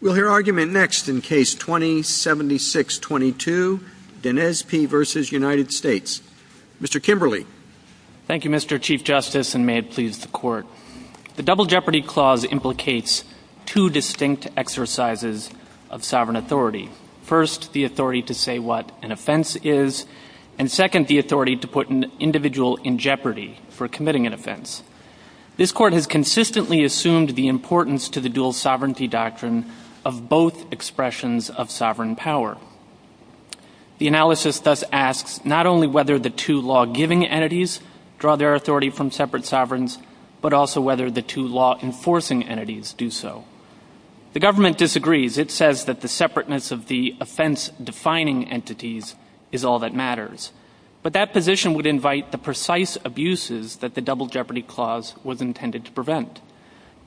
We'll hear argument next in Case 20-7622, Denezpi v. United States. Mr. Kimberly. Thank you, Mr. Chief Justice, and may it please the Court. The Double Jeopardy Clause implicates two distinct exercises of sovereign authority. First, the authority to say what an offense is, and second, the authority to put an individual in jeopardy for committing an offense. This Court has consistently assumed the importance to the dual sovereignty doctrine of both expressions of sovereign power. The analysis thus asks not only whether the two law-giving entities draw their authority from separate sovereigns, but also whether the two law-enforcing entities do so. The government disagrees. It says that the separateness of the offense-defining entities is all that matters. But that position would invite the precise abuses that the Double Jeopardy Clause was intended to prevent.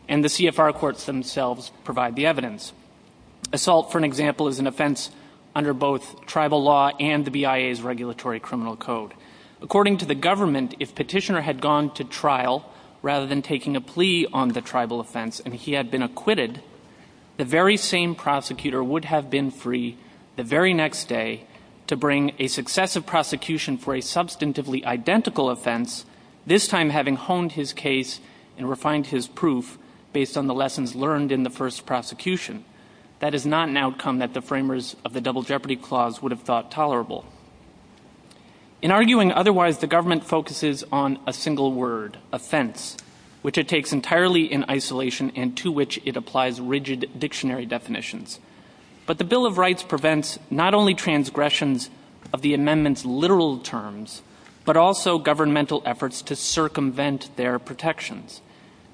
And the CFR courts themselves provide the evidence. Assault, for example, is an offense under both tribal law and the BIA's Regulatory Criminal Code. According to the government, if Petitioner had gone to trial rather than taking a plea on the tribal offense and he had been acquitted, the very same prosecutor would have been free the very next day to bring a successive prosecution for a substantively identical offense, this time having honed his case and refined his proof based on the lessons learned in the first prosecution. That is not an outcome that the framers of the Double Jeopardy Clause would have thought tolerable. In arguing otherwise, the government focuses on a single word, offense, which it takes entirely in isolation and to which it applies rigid dictionary definitions. But the Bill of Rights prevents not only transgressions of the amendment's literal terms, but also governmental efforts to circumvent their protections.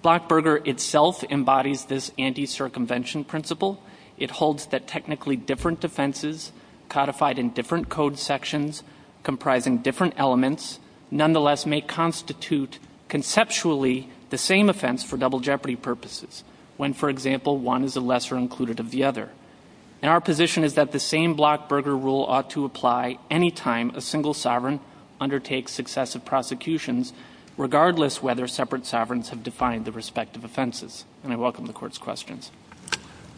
Blockburger itself embodies this anti-circumvention principle. It holds that technically different offenses codified in different code sections comprising different elements nonetheless may constitute conceptually the same offense for double jeopardy purposes, when, for example, one is a lesser included of the other. And our position is that the same Blockburger rule ought to apply any time a single sovereign undertakes successive prosecutions, regardless whether separate sovereigns have defined the respective offenses. And I welcome the Court's questions.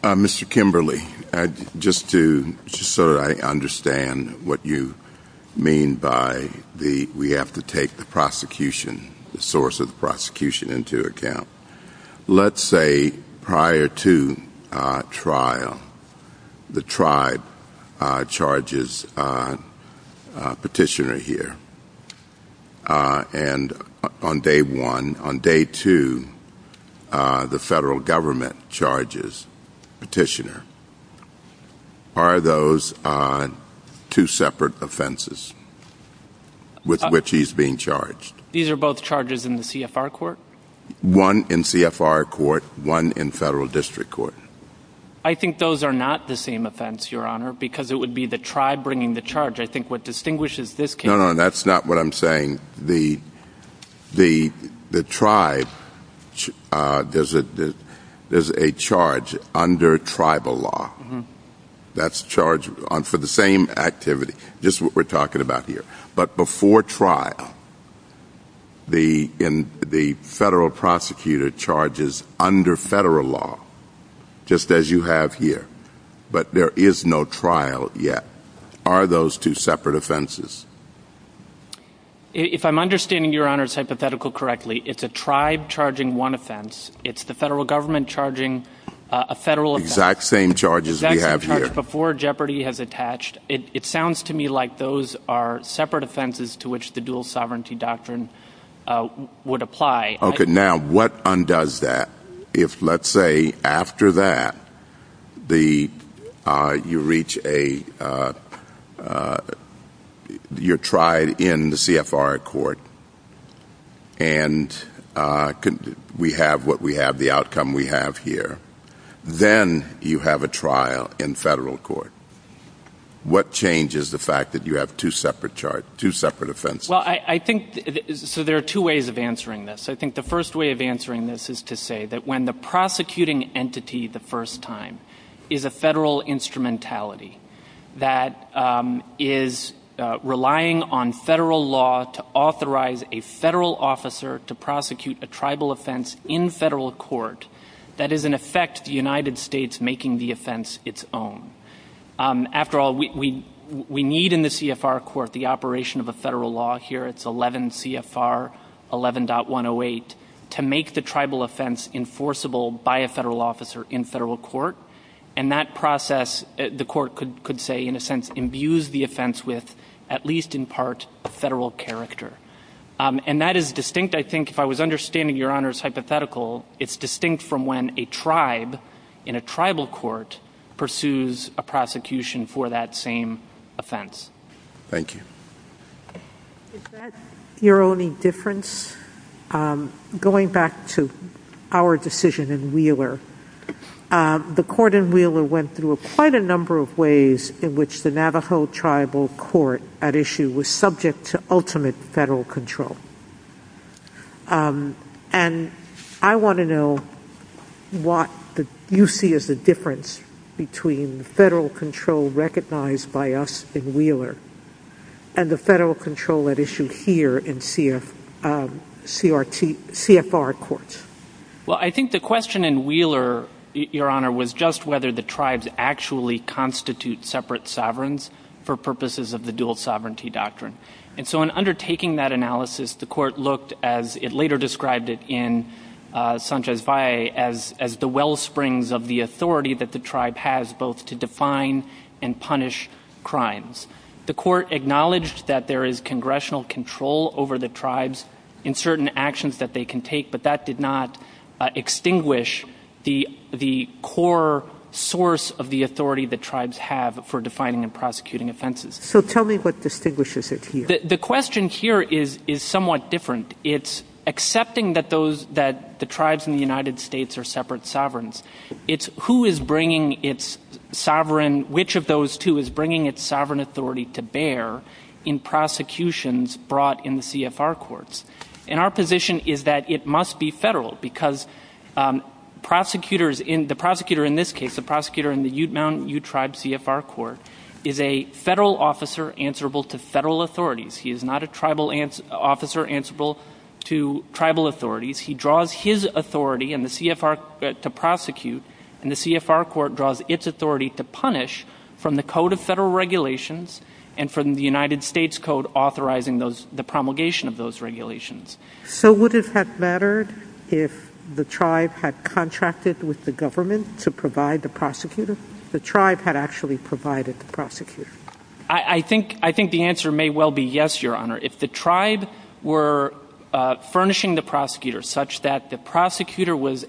Mr. Kimberly, just so I understand what you mean by the we have to take the prosecution, the source of the prosecution into account. Let's say prior to trial, the tribe charges petitioner here. And on day one, on day two, the federal government charges petitioner. Are those two separate offenses with which he's being charged? These are both charges in the CFR court? One in CFR court, one in federal district court. I think those are not the same offense, Your Honor, because it would be the tribe bringing the charge. I think what distinguishes this case. No, no, that's not what I'm saying. The tribe, there's a charge under tribal law. That's charged for the same activity, just what we're talking about here. But before trial, the federal prosecutor charges under federal law, just as you have here. But there is no trial yet. Are those two separate offenses? If I'm understanding Your Honor's hypothetical correctly, it's a tribe charging one offense. It's the federal government charging a federal offense. Exact same charges we have here. Exact same charges before Jeopardy has attached. It sounds to me like those are separate offenses to which the dual sovereignty doctrine would apply. Okay. Now, what undoes that? If, let's say, after that, you reach a, you're tried in the CFR court and we have what we have, the outcome we have here, then you have a trial in federal court. What changes the fact that you have two separate charges, two separate offenses? Well, I think, so there are two ways of answering this. I think the first way of answering this is to say that when the prosecuting entity the first time is a federal instrumentality that is relying on federal law to authorize a federal officer to prosecute a tribal offense in federal court, that is in effect the United States making the offense its own. After all, we need in the CFR court the operation of a federal law here. It's 11 CFR 11.108 to make the tribal offense enforceable by a federal officer in federal court. And that process, the court could say, in a sense, imbues the offense with, at least in part, federal character. And that is distinct, I think, if I was understanding Your Honor's hypothetical, it's distinct from when a tribe in a tribal court pursues a prosecution for that same offense. Thank you. Is that your only difference? Going back to our decision in Wheeler, the court in Wheeler went through quite a number of ways in which the Navajo tribal court at issue was subject to ultimate federal control. And I want to know what you see as the difference between the federal control recognized by us in Wheeler and the federal control at issue here in CFR courts. Well, I think the question in Wheeler, Your Honor, was just whether the tribes actually constitute separate sovereigns for purposes of the dual sovereignty doctrine. And so in undertaking that analysis, the court looked, as it later described it in Sanchez Valle, as the wellsprings of the authority that the tribe has both to define and punish crimes. The court acknowledged that there is congressional control over the tribes in certain actions that they can take, but that did not extinguish the core source of the authority the tribes have for defining and prosecuting offenses. So tell me what distinguishes it here. The question here is somewhat different. It's accepting that the tribes in the United States are separate sovereigns. It's who is bringing its sovereign, which of those two is bringing its sovereign authority to bear in prosecutions brought in the CFR courts. And our position is that it must be federal because the prosecutor in this case, the prosecutor in the Ute Mountain Ute Tribe CFR court, is a federal officer answerable to federal authorities. He is not a tribal officer answerable to tribal authorities. He draws his authority to prosecute, and the CFR court draws its authority to punish from the Code of Federal Regulations and from the United States Code authorizing the promulgation of those regulations. So would it have mattered if the tribe had contracted with the government to provide the prosecutor? The tribe had actually provided the prosecutor. I think the answer may well be yes, Your Honor. If the tribe were furnishing the prosecutor such that the prosecutor was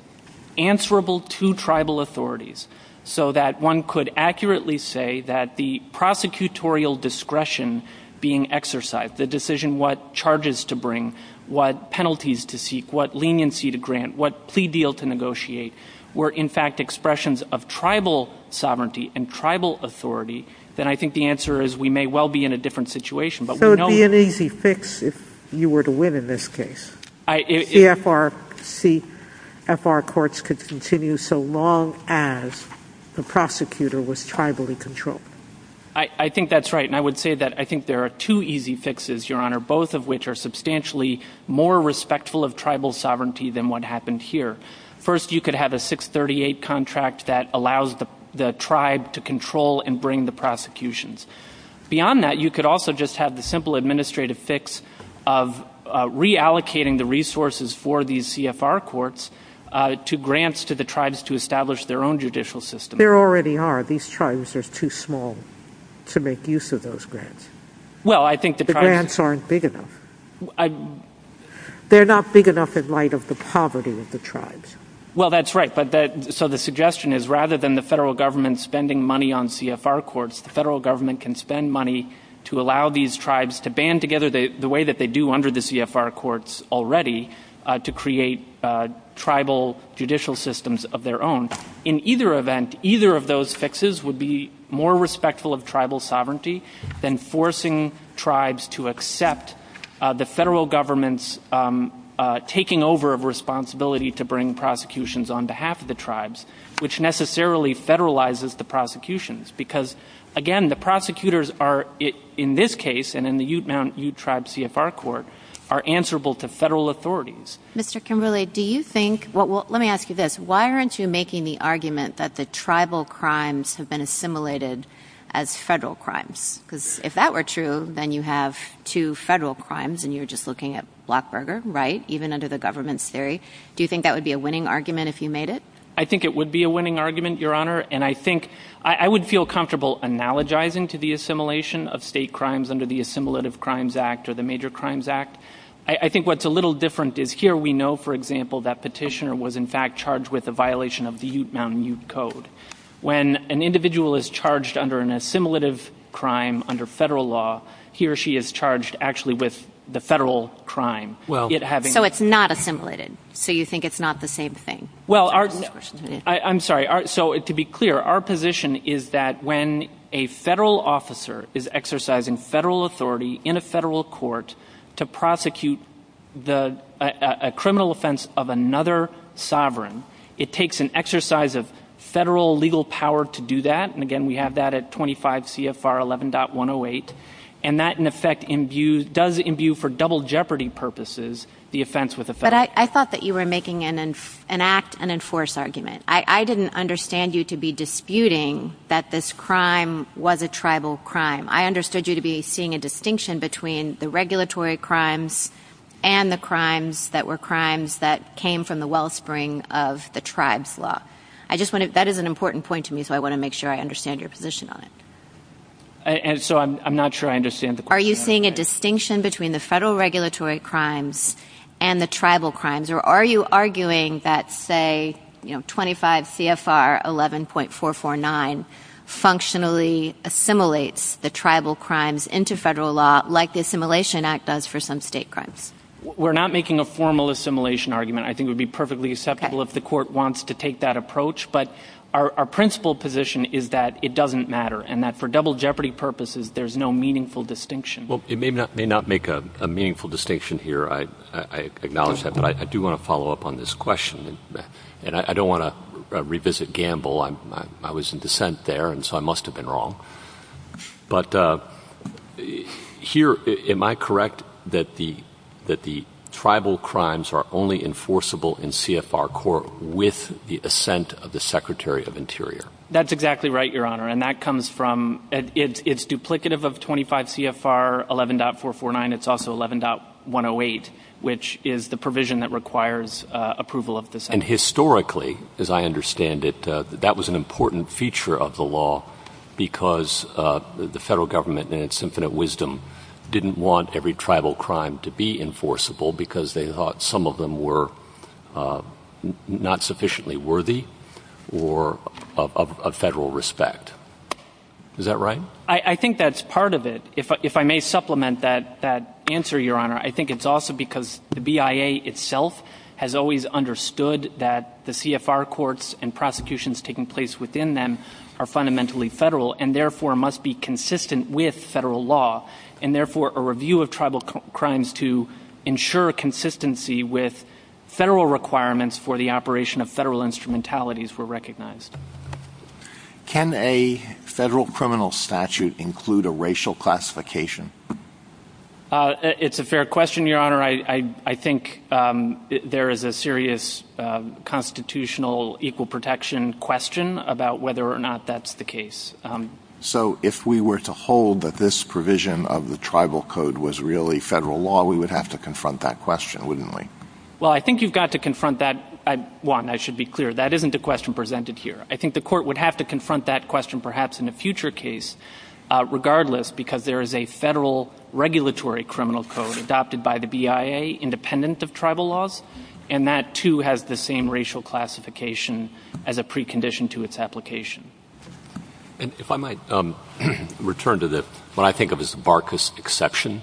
answerable to tribal authorities so that one could accurately say that the prosecutorial discretion being exercised, the decision what charges to bring, what penalties to seek, what leniency to grant, what plea deal to negotiate were, in fact, expressions of tribal sovereignty and tribal authority, then I think the answer is we may well be in a different situation. But we know that... So it would be an easy fix if you were to win in this case. CFR courts could continue so long as the prosecutor was tribally controlled. I think that's right. And I would say that I think there are two easy fixes, Your Honor, both of which are substantially more respectful of tribal sovereignty than what happened here. First, you could have a 638 contract that allows the tribe to control and bring the prosecutions. Beyond that, you could also just have the simple administrative fix of reallocating the resources for these CFR courts to grants to the tribes to establish their own judicial system. There already are. These tribes are too small to make use of those grants. Well, I think the tribes... The grants aren't big enough. They're not big enough in light of the poverty of the tribes. Well, that's right. So the suggestion is rather than the federal government spending money on CFR courts, the federal government can spend money to allow these tribes to band together the way that they do under the CFR courts already to create tribal judicial systems of their own. In either event, either of those fixes would be more respectful of tribal sovereignty than forcing tribes to accept the federal government's taking over of responsibility to bring prosecutions on behalf of the tribes, which necessarily federalizes the prosecutions. Because, again, the prosecutors are, in this case and in the Ute Mount Ute Tribe CFR Court, are answerable to federal authorities. Mr. Kimberley, do you think... Let me ask you this. Why aren't you making the argument that the tribal crimes have been assimilated as federal crimes? Because if that were true, then you have two federal crimes, and you're just looking at Blockburger, right? Even under the government's theory. Do you think that would be a winning argument if you made it? I think it would be a winning argument, Your Honor. And I think... I would feel comfortable analogizing to the assimilation of state crimes under the Assimilative Crimes Act or the Major Crimes Act. I think what's a little different is here we know, for example, that Petitioner was, in fact, charged with a violation of the Ute Mount Ute Code. When an individual is charged under an assimilative crime under federal law, he or she is charged actually with the federal crime. So it's not assimilated. So you think it's not the same thing. I'm sorry. To be clear, our position is that when a federal officer is exercising federal authority in a federal court to prosecute a criminal offense of another sovereign, it takes an exercise of federal legal power to do that. And, again, we have that at 25 CFR 11.108. And that, in effect, does imbue for double jeopardy purposes the offense with the federal court. But I thought that you were making an act and enforce argument. I didn't understand you to be disputing that this crime was a tribal crime. I understood you to be seeing a distinction between the regulatory crimes and the crimes that were crimes that came from the wellspring of the tribes law. That is an important point to me, so I want to make sure I understand your position on it. So I'm not sure I understand the question. Are you seeing a distinction between the federal regulatory crimes and the tribal crimes? Or are you arguing that, say, 25 CFR 11.449 functionally assimilates the tribal crimes into federal law like the Assimilation Act does for some state crimes? We're not making a formal assimilation argument. I think it would be perfectly acceptable if the court wants to take that approach. But our principal position is that it doesn't matter and that for double jeopardy purposes, there's no meaningful distinction. Well, it may not make a meaningful distinction here. I acknowledge that. But I do want to follow up on this question. And I don't want to revisit Gamble. I was in dissent there, and so I must have been wrong. But here, am I correct that the tribal crimes are only enforceable in CFR court with the assent of the Secretary of Interior? That's exactly right, Your Honor. It's duplicative of 25 CFR 11.449. It's also 11.108, which is the provision that requires approval of the statute. And historically, as I understand it, that was an important feature of the law because the federal government, in its infinite wisdom, didn't want every tribal crime to be enforceable because they thought some of them were not sufficiently worthy or of federal respect. Is that right? I think that's part of it. If I may supplement that answer, Your Honor, I think it's also because the BIA itself has always understood that the CFR courts and prosecutions taking place within them are fundamentally federal and, therefore, must be consistent with federal law. And, therefore, a review of tribal crimes to ensure consistency with federal requirements for the operation of federal instrumentalities were recognized. Can a federal criminal statute include a racial classification? It's a fair question, Your Honor. I think there is a serious constitutional equal protection question about whether or not that's the case. So if we were to hold that this provision of the tribal code was really federal law, we would have to confront that question, wouldn't we? Well, I think you've got to confront that. One, I should be clear, that isn't a question presented here. I think the Court would have to confront that question perhaps in a future case, regardless, because there is a federal regulatory criminal code adopted by the BIA independent of tribal laws, and that, too, has the same racial classification as a precondition to its application. And if I might return to what I think of as the Barkas exception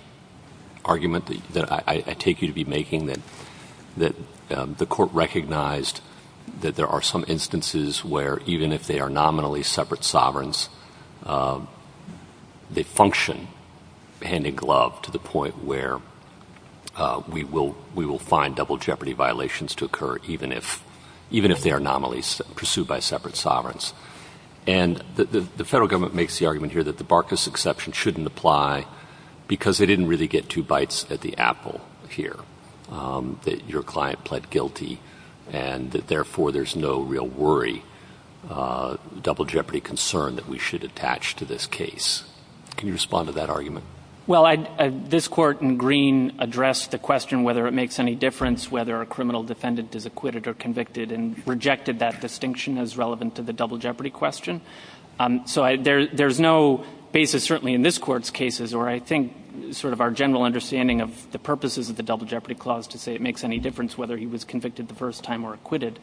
argument that I take you to be making, that the Court recognized that there are some instances where, even if they are nominally separate sovereigns, they function hand in glove to the point where we will find double jeopardy violations to occur, even if they are nominally pursued by separate sovereigns. And the federal government makes the argument here that the Barkas exception shouldn't apply because they didn't really get two bites at the apple here, that your client pled guilty and that, therefore, there's no real worry, double jeopardy concern that we should attach to this case. Can you respond to that argument? Well, this Court in Green addressed the question whether it makes any difference whether a criminal defendant is acquitted or convicted and rejected that distinction as relevant to the double jeopardy question. So there's no basis, certainly in this Court's cases, or I think sort of our general understanding of the purposes of the double jeopardy clause to say it makes any difference whether he was convicted the first time or acquitted.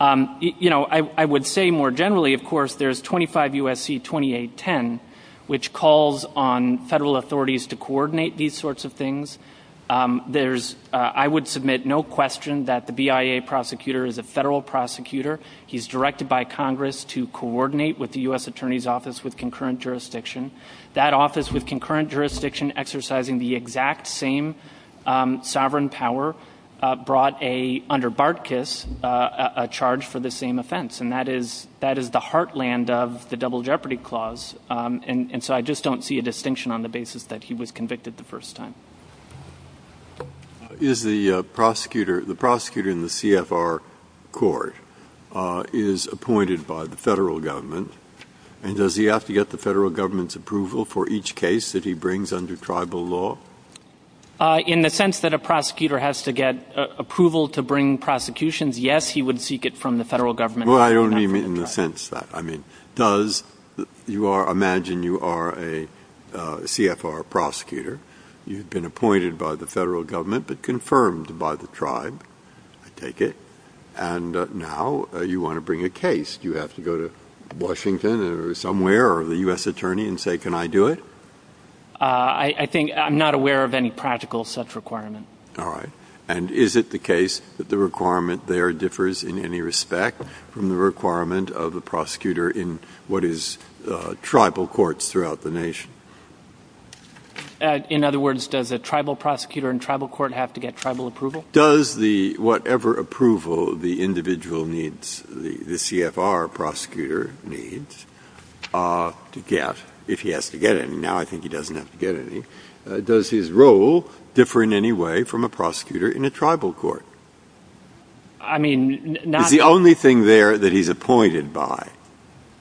You know, I would say more generally, of course, there's 25 U.S.C. 2810, which calls on federal authorities to coordinate these sorts of things. There's, I would submit, no question that the BIA prosecutor is a federal prosecutor. He's directed by Congress to coordinate with the U.S. Attorney's Office with concurrent jurisdiction. That office with concurrent jurisdiction exercising the exact same sovereign power brought a, under Barkas, a charge for the same offense, and that is the heartland of the double jeopardy clause. And so I just don't see a distinction on the basis that he was convicted the first time. Is the prosecutor, the prosecutor in the CFR court is appointed by the federal government, and does he have to get the federal government's approval for each case that he brings under tribal law? In the sense that a prosecutor has to get approval to bring prosecutions, yes, he would seek it from the federal government. Well, I don't mean in the sense that, I mean, does, you are, imagine you are a CFR prosecutor. You've been appointed by the federal government but confirmed by the tribe. I take it. And now you want to bring a case. Do you have to go to Washington or somewhere or the U.S. Attorney and say, can I do it? I think, I'm not aware of any practical such requirement. All right. And is it the case that the requirement there differs in any respect from the requirement of a prosecutor in what is tribal courts throughout the nation? In other words, does a tribal prosecutor in tribal court have to get tribal approval? Does the, whatever approval the individual needs, the CFR prosecutor needs to get, if he has to get any? Now I think he doesn't have to get any. Does his role differ in any way from a prosecutor in a tribal court? I mean, not in. Is the only thing there that he's appointed by,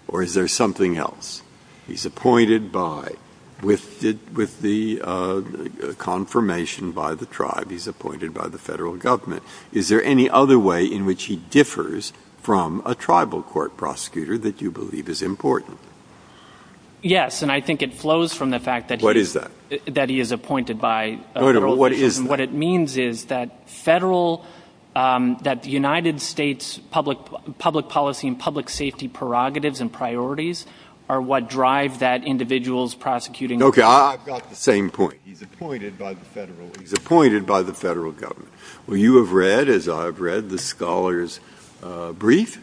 or is there something else? He's appointed by, with the confirmation by the tribe, he's appointed by the federal government. Is there any other way in which he differs from a tribal court prosecutor that you believe is important? Yes. And I think it flows from the fact that he is appointed by federal. What is that? Okay, I've got the same point. He's appointed by the federal. He's appointed by the federal government. Well, you have read, as I've read, the scholar's brief.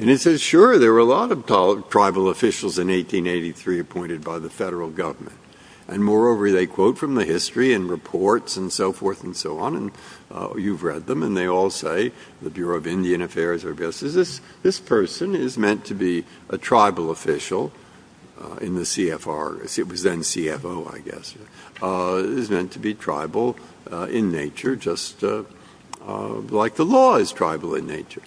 And it says, sure, there were a lot of tribal officials in 1883 appointed by the federal government. And moreover, they quote from the history and reports and so forth and so on. And you've read them. And they all say, the Bureau of Indian Affairs, this person is meant to be a tribal official in the CFR. It was then CFO, I guess. He's meant to be tribal in nature, just like the law is tribal in nature.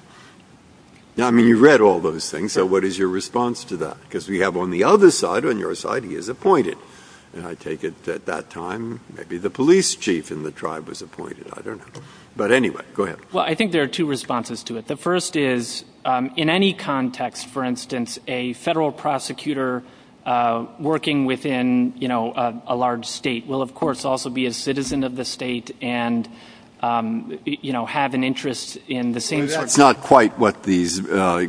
I mean, you've read all those things. So what is your response to that? Because we have on the other side, on your side, he is appointed. And I take it at that time, maybe the police chief in the tribe was appointed. I don't know. But anyway, go ahead. Well, I think there are two responses to it. The first is, in any context, for instance, a federal prosecutor working within, you know, a large state, will, of course, also be a citizen of the state and, you know, have an interest in the same sort of thing. That's not quite what these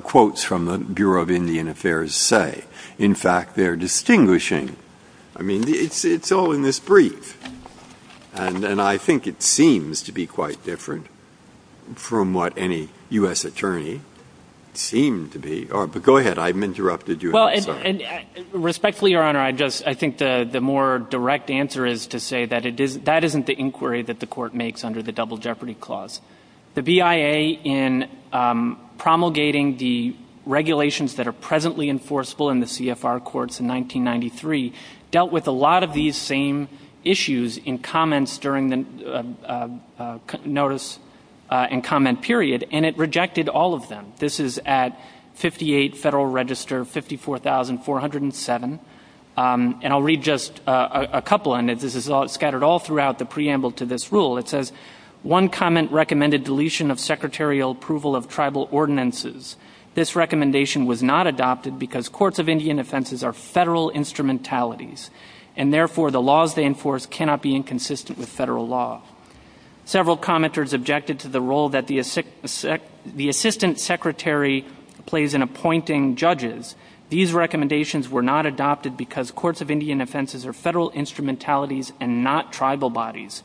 quotes from the Bureau of Indian Affairs say. In fact, they're distinguishing. I mean, it's all in this brief. And I think it seems to be quite different from what any U.S. attorney seemed to be. But go ahead. I've interrupted you. Well, respectfully, Your Honor, I think the more direct answer is to say that that isn't the inquiry that the court makes under the Double Jeopardy Clause. The BIA, in promulgating the regulations that are presently enforceable in the CFR courts in 1993, dealt with a lot of these same issues in comments during the notice and comment period, and it rejected all of them. This is at 58 Federal Register 54407. And I'll read just a couple, and this is scattered all throughout the preamble to this rule. It says, one comment recommended deletion of secretarial approval of tribal ordinances. This recommendation was not adopted because courts of Indian offenses are federal instrumentalities, and therefore the laws they enforce cannot be inconsistent with federal law. Several commenters objected to the role that the assistant secretary plays in appointing judges. These recommendations were not adopted because courts of Indian offenses are federal instrumentalities and not tribal bodies.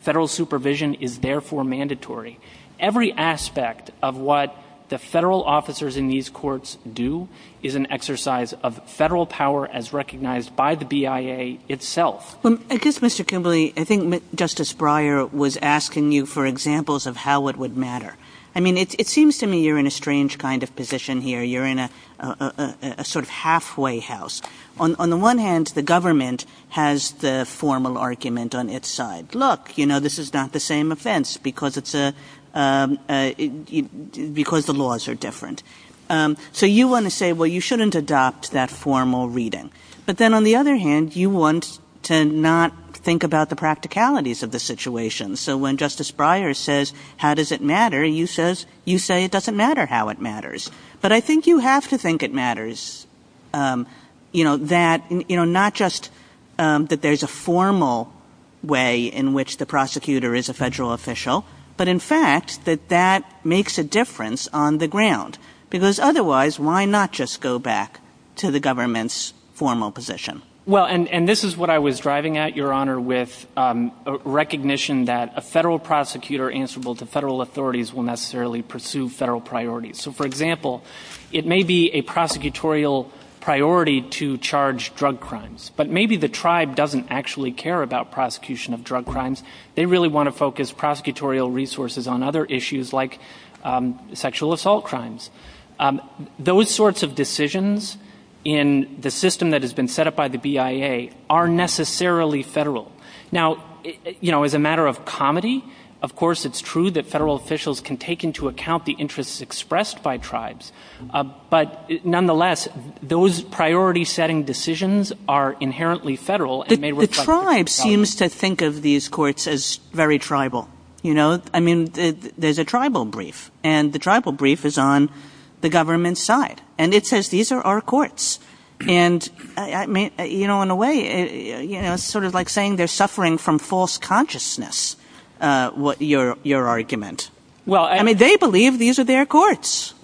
Federal supervision is therefore mandatory. Every aspect of what the federal officers in these courts do is an exercise of federal power as recognized by the BIA itself. Well, I guess, Mr. Kimberly, I think Justice Breyer was asking you for examples of how it would matter. I mean, it seems to me you're in a strange kind of position here. You're in a sort of halfway house. On the one hand, the government has the formal argument on its side. Look, you know, this is not the same offense because the laws are different. So you want to say, well, you shouldn't adopt that formal reading. But then on the other hand, you want to not think about the practicalities of the situation. So when Justice Breyer says, how does it matter, you say it doesn't matter how it matters. But I think you have to think it matters, you know, that, you know, not just that there's a formal way in which the prosecutor is a federal official, but in fact that that makes a difference on the ground. Because otherwise, why not just go back to the government's formal position? Well, and this is what I was driving at, Your Honor, with recognition that a federal prosecutor answerable to federal authorities will necessarily pursue federal priorities. So, for example, it may be a prosecutorial priority to charge drug crimes. But maybe the tribe doesn't actually care about prosecution of drug crimes. They really want to focus prosecutorial resources on other issues like sexual assault crimes. Those sorts of decisions in the system that has been set up by the BIA are necessarily federal. Now, you know, as a matter of comedy, of course it's true that federal officials can take into account the interests expressed by tribes. But nonetheless, those priority-setting decisions are inherently federal and may reflect the tribe's policy. The tribe seems to think of these courts as very tribal. You know, I mean, there's a tribal brief, and the tribal brief is on the government's side. And it says these are our courts. And, I mean, you know, in a way, you know, it's sort of like saying they're suffering from false consciousness, your argument. I mean, they believe these are their courts.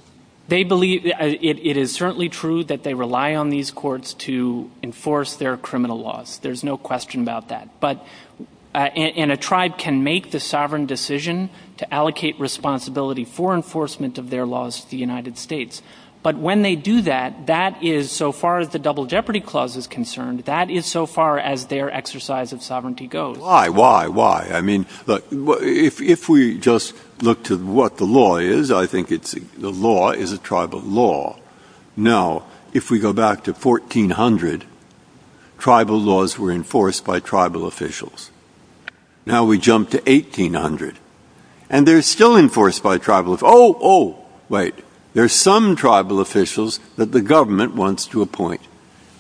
They believe – it is certainly true that they rely on these courts to enforce their criminal laws. There's no question about that. But – and a tribe can make the sovereign decision to allocate responsibility for enforcement of their laws to the United States. But when they do that, that is, so far as the Double Jeopardy Clause is concerned, that is so far as their exercise of sovereignty goes. Why? Why? Why? I mean, look, if we just look to what the law is, I think it's – the law is a tribal law. Now, if we go back to 1400, tribal laws were enforced by tribal officials. Now we jump to 1800, and they're still enforced by tribal – oh, oh, wait. There are some tribal officials that the government wants to appoint.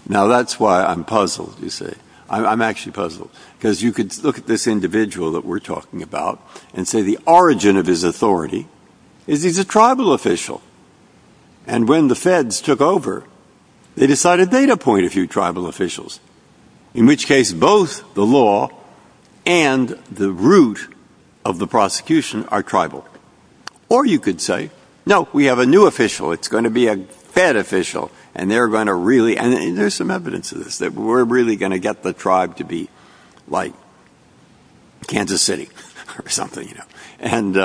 Now, that's why I'm puzzled, you see. I'm actually puzzled, because you could look at this individual that we're talking about and say the origin of his authority is he's a tribal official. And when the feds took over, they decided they'd appoint a few tribal officials, in which case both the law and the root of the prosecution are tribal. Or you could say, no, we have a new official. It's going to be a fed official, and they're going to really – and there's some evidence of this – that we're really going to get the tribe to be like Kansas City or something, you know. And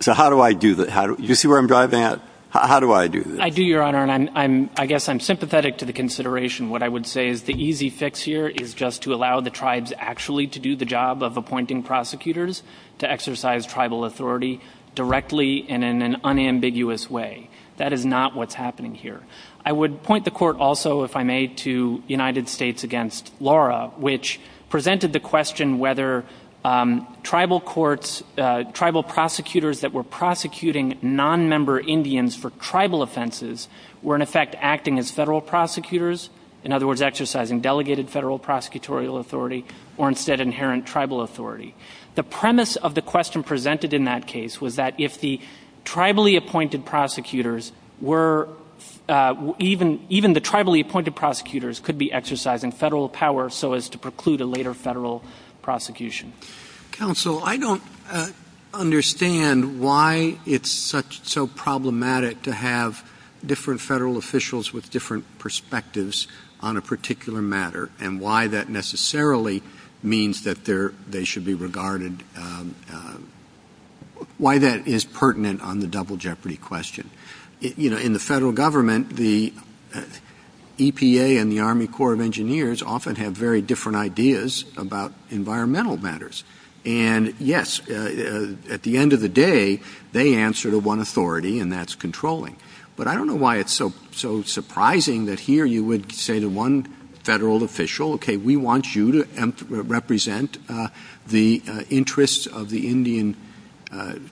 so how do I do that? You see where I'm driving at? How do I do this? I do, Your Honor, and I guess I'm sympathetic to the consideration. What I would say is the easy fix here is just to allow the tribes actually to do the job of appointing prosecutors to exercise tribal authority directly and in an unambiguous way. That is not what's happening here. I would point the Court also, if I may, to United States v. Laura, which presented the question whether tribal courts – tribal prosecutors that were prosecuting nonmember Indians for tribal offenses were, in effect, acting as federal prosecutors, in other words, exercising delegated federal prosecutorial authority, or instead inherent tribal authority. The premise of the question presented in that case was that if the tribally appointed prosecutors were – even the tribally appointed prosecutors could be exercising federal power so as to preclude a later federal prosecution. Counsel, I don't understand why it's so problematic to have different federal officials with different perspectives on a particular matter and why that necessarily means that they should be regarded – why that is pertinent on the double jeopardy question. In the federal government, the EPA and the Army Corps of Engineers often have very different ideas about environmental matters. And, yes, at the end of the day, they answer to one authority, and that's controlling. But I don't know why it's so surprising that here you would say to one federal official, okay, we want you to represent the interests of the Indian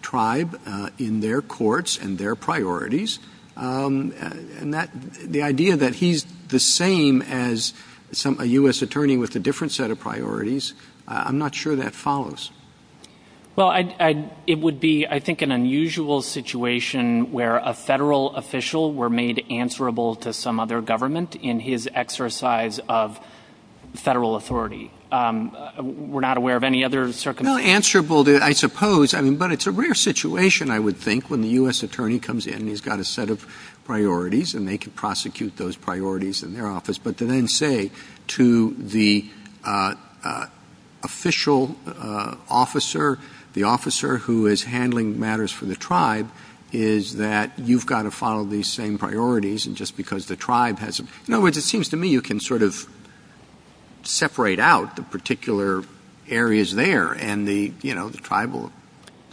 tribe in their courts and their priorities. And the idea that he's the same as a U.S. attorney with a different set of priorities, I'm not sure that follows. Well, it would be, I think, an unusual situation where a federal official were made answerable to some other government in his exercise of federal authority. We're not aware of any other circumstances. Well, answerable, I suppose. I mean, but it's a rare situation, I would think, when the U.S. attorney comes in and he's got a set of priorities and they can prosecute those priorities in their office. But to then say to the official officer, the officer who is handling matters for the tribe, is that you've got to follow these same priorities just because the tribe has them. In other words, it seems to me you can sort of separate out the particular areas there. And the tribal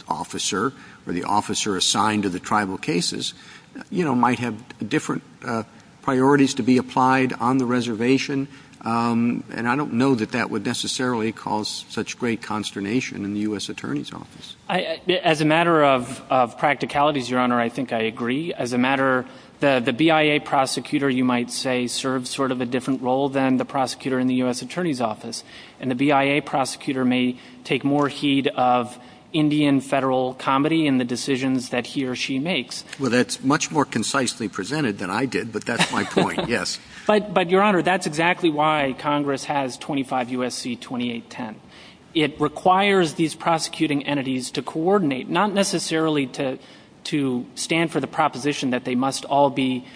officer or the officer assigned to the tribal cases might have different priorities to be applied on the reservation. And I don't know that that would necessarily cause such great consternation in the U.S. attorney's office. As a matter of practicalities, Your Honor, I think I agree. As a matter, the BIA prosecutor, you might say, serves sort of a different role than the prosecutor in the U.S. attorney's office. And the BIA prosecutor may take more heed of Indian federal comedy in the decisions that he or she makes. Well, that's much more concisely presented than I did, but that's my point, yes. But, Your Honor, that's exactly why Congress has 25 U.S.C. 2810. It requires these prosecuting entities to coordinate, not necessarily to stand for the proposition that they must all be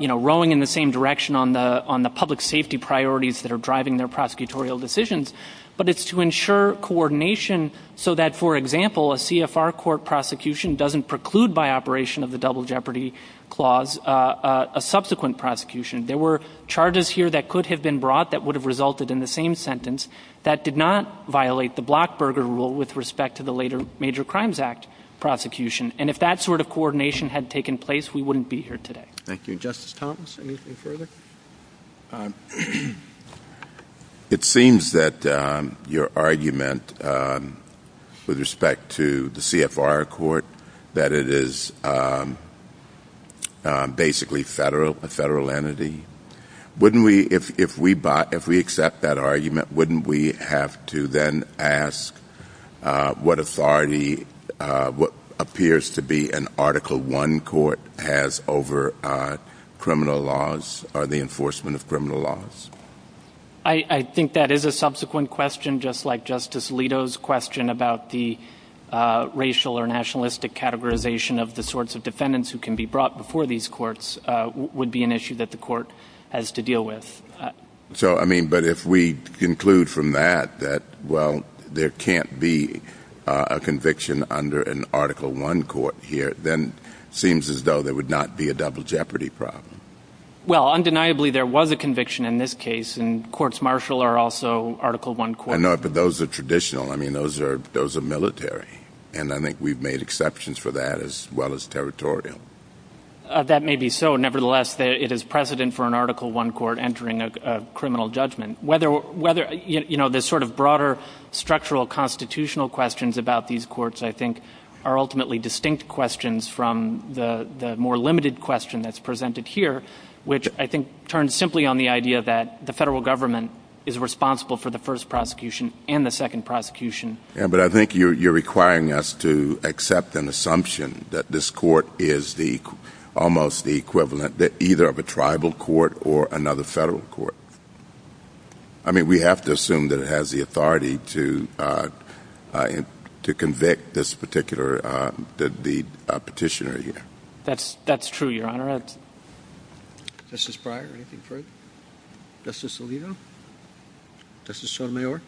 rowing in the same direction on the public safety priorities that are driving their prosecutorial decisions, but it's to ensure coordination so that, for example, a CFR court prosecution doesn't preclude by operation of the double jeopardy clause a subsequent prosecution. There were charges here that could have been brought that would have resulted in the same sentence that did not violate the Blockburger rule with respect to the later Major Crimes Act prosecution. And if that sort of coordination had taken place, we wouldn't be here today. Thank you. Justice Thomas, anything further? It seems that your argument with respect to the CFR court, that it is basically a federal entity. If we accept that argument, wouldn't we have to then ask what authority, what appears to be an Article I court has over criminal laws or the enforcement of criminal laws? I think that is a subsequent question, just like Justice Alito's question about the racial or nationalistic categorization of the sorts of defendants who can be brought before these courts would be an issue that the court has to deal with. But if we conclude from that that, well, there can't be a conviction under an Article I court here, then it seems as though there would not be a double jeopardy problem. Well, undeniably, there was a conviction in this case, and courts martial are also Article I courts. I know, but those are traditional. I mean, those are military. And I think we've made exceptions for that as well as territorial. That may be so. Nevertheless, it is precedent for an Article I court entering a criminal judgment. You know, the sort of broader structural constitutional questions about these courts, I think, are ultimately distinct questions from the more limited question that's presented here, which I think turns simply on the idea that the federal government is responsible for the first prosecution and the second prosecution. Yeah, but I think you're requiring us to accept an assumption that this court is almost the equivalent either of a tribal court or another federal court. I mean, we have to assume that it has the authority to convict this particular petitioner here. That's true, Your Honor. Justice Breyer, anything further? Justice Alito? Justice Sotomayor?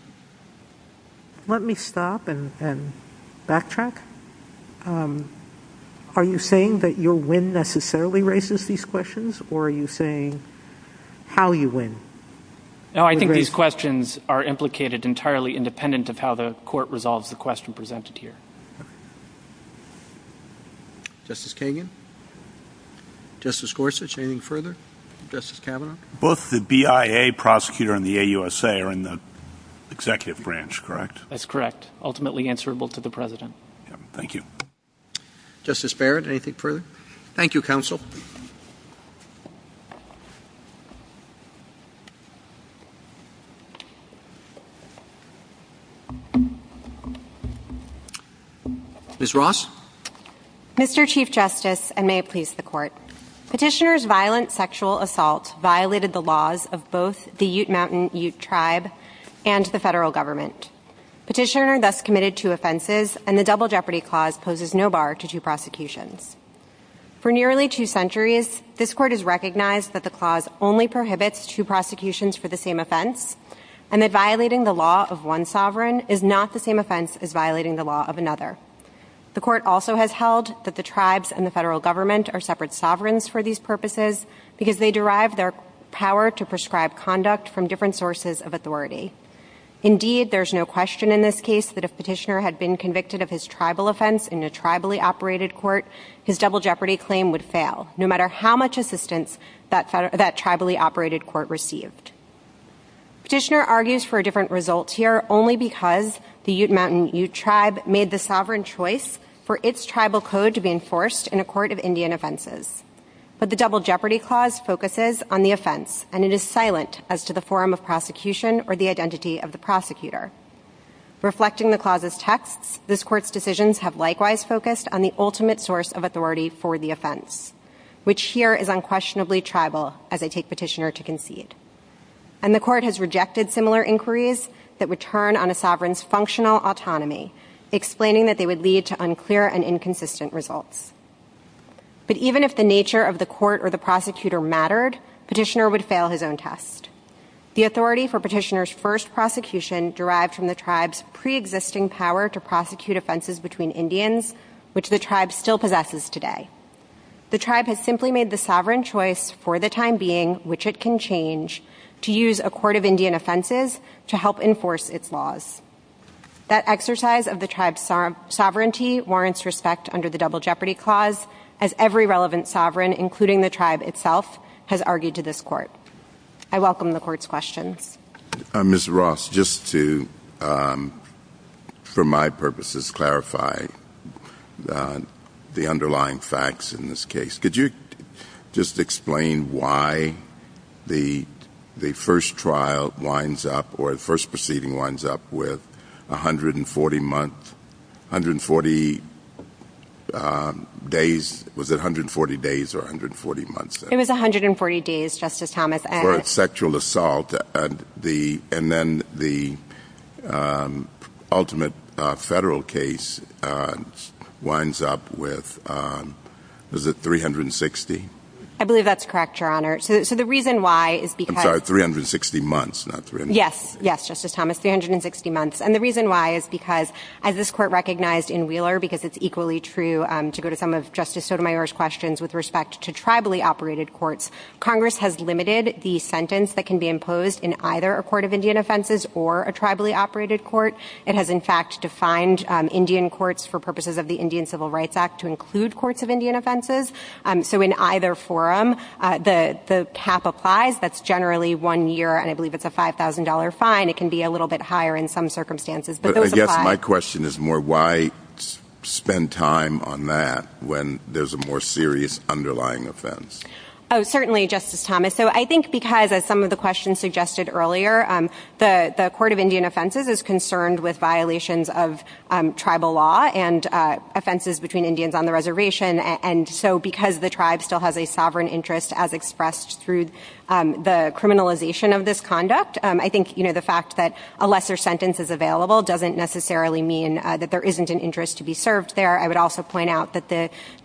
Let me stop and backtrack. Are you saying that your win necessarily raises these questions, or are you saying how you win? No, I think these questions are implicated entirely independent of how the court resolves the question presented here. Justice Kagan? Justice Gorsuch, anything further? Justice Kavanaugh? Both the BIA prosecutor and the AUSA are in the executive branch, correct? That's correct. Ultimately answerable to the President. Thank you. Justice Barrett, anything further? Thank you, Counsel. Ms. Ross? Petitioner's violent sexual assault violated the laws of both the Ute Mountain Ute tribe and the federal government. Petitioner thus committed two offenses, and the Double Jeopardy Clause poses no bar to two prosecutions. For nearly two centuries, this court has recognized that the clause only prohibits two prosecutions for the same offense, and that violating the law of one sovereign is not the same offense as violating the law of another. The court also has held that the tribes and the federal government are separate sovereigns for these purposes because they derive their power to prescribe conduct from different sources of authority. Indeed, there's no question in this case that if Petitioner had been convicted of his tribal offense in a tribally operated court, his Double Jeopardy Claim would fail, no matter how much assistance that tribally operated court received. Petitioner argues for a different result here only because the Ute Mountain Ute tribe made the sovereign choice for its tribal code to be enforced in a court of Indian offenses. But the Double Jeopardy Clause focuses on the offense, and it is silent as to the forum of prosecution or the identity of the prosecutor. Reflecting the clause's texts, this court's decisions have likewise focused on the ultimate source of authority for the offense, which here is unquestionably tribal, as I take Petitioner to concede. And the court has rejected similar inquiries that would turn on a sovereign's functional autonomy, explaining that they would lead to unclear and inconsistent results. But even if the nature of the court or the prosecutor mattered, Petitioner would fail his own test. The authority for Petitioner's first prosecution derived from the tribe's preexisting power to prosecute offenses between Indians, which the tribe still possesses today. The tribe has simply made the sovereign choice for the time being, which it can change, to use a court of Indian offenses to help enforce its laws. That exercise of the tribe's sovereignty warrants respect under the Double Jeopardy Clause, as every relevant sovereign, including the tribe itself, has argued to this court. I welcome the court's questions. Mr. Ross, just to, for my purposes, clarify the underlying facts in this case, could you just explain why the first trial winds up or the first proceeding winds up with 140 month, 140 days, was it 140 days or 140 months? It was 140 days, Justice Thomas. For sexual assault, and then the ultimate federal case winds up with, is it 360? I believe that's correct, Your Honor. So the reason why is because... I'm sorry, 360 months, not 360 days. Yes, yes, Justice Thomas, 360 months. And the reason why is because, as this court recognized in Wheeler, because it's equally true to go to some of Justice Sotomayor's questions with respect to tribally operated courts, Congress has limited the sentence that can be imposed in either a court of Indian offenses or a tribally operated court. It has, in fact, defined Indian courts for purposes of the Indian Civil Rights Act to include courts of Indian offenses. So in either forum, the cap applies. That's generally one year, and I believe it's a $5,000 fine. It can be a little bit higher in some circumstances, but those apply. But I guess my question is more, why spend time on that when there's a more serious underlying offense? Oh, certainly, Justice Thomas. So I think because, as some of the questions suggested earlier, the court of Indian offenses is concerned with violations of tribal law and offenses between Indians on the reservation. And so because the tribe still has a sovereign interest, as expressed through the criminalization of this conduct, I think the fact that a lesser sentence is available doesn't necessarily mean that there isn't an interest to be served there. I would also point out that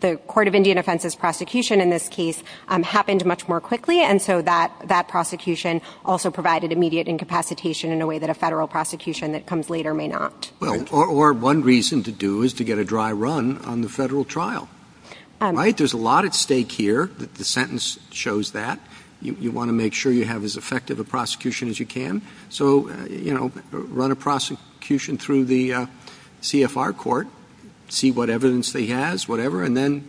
the court of Indian offenses prosecution in this case happened much more quickly, and so that prosecution also provided immediate incapacitation in a way that a federal prosecution that comes later may not. Well, or one reason to do is to get a dry run on the federal trial. Right? There's a lot at stake here. The sentence shows that. You want to make sure you have as effective a prosecution as you can. So, you know, run a prosecution through the CFR court, see what evidence they has, whatever, and then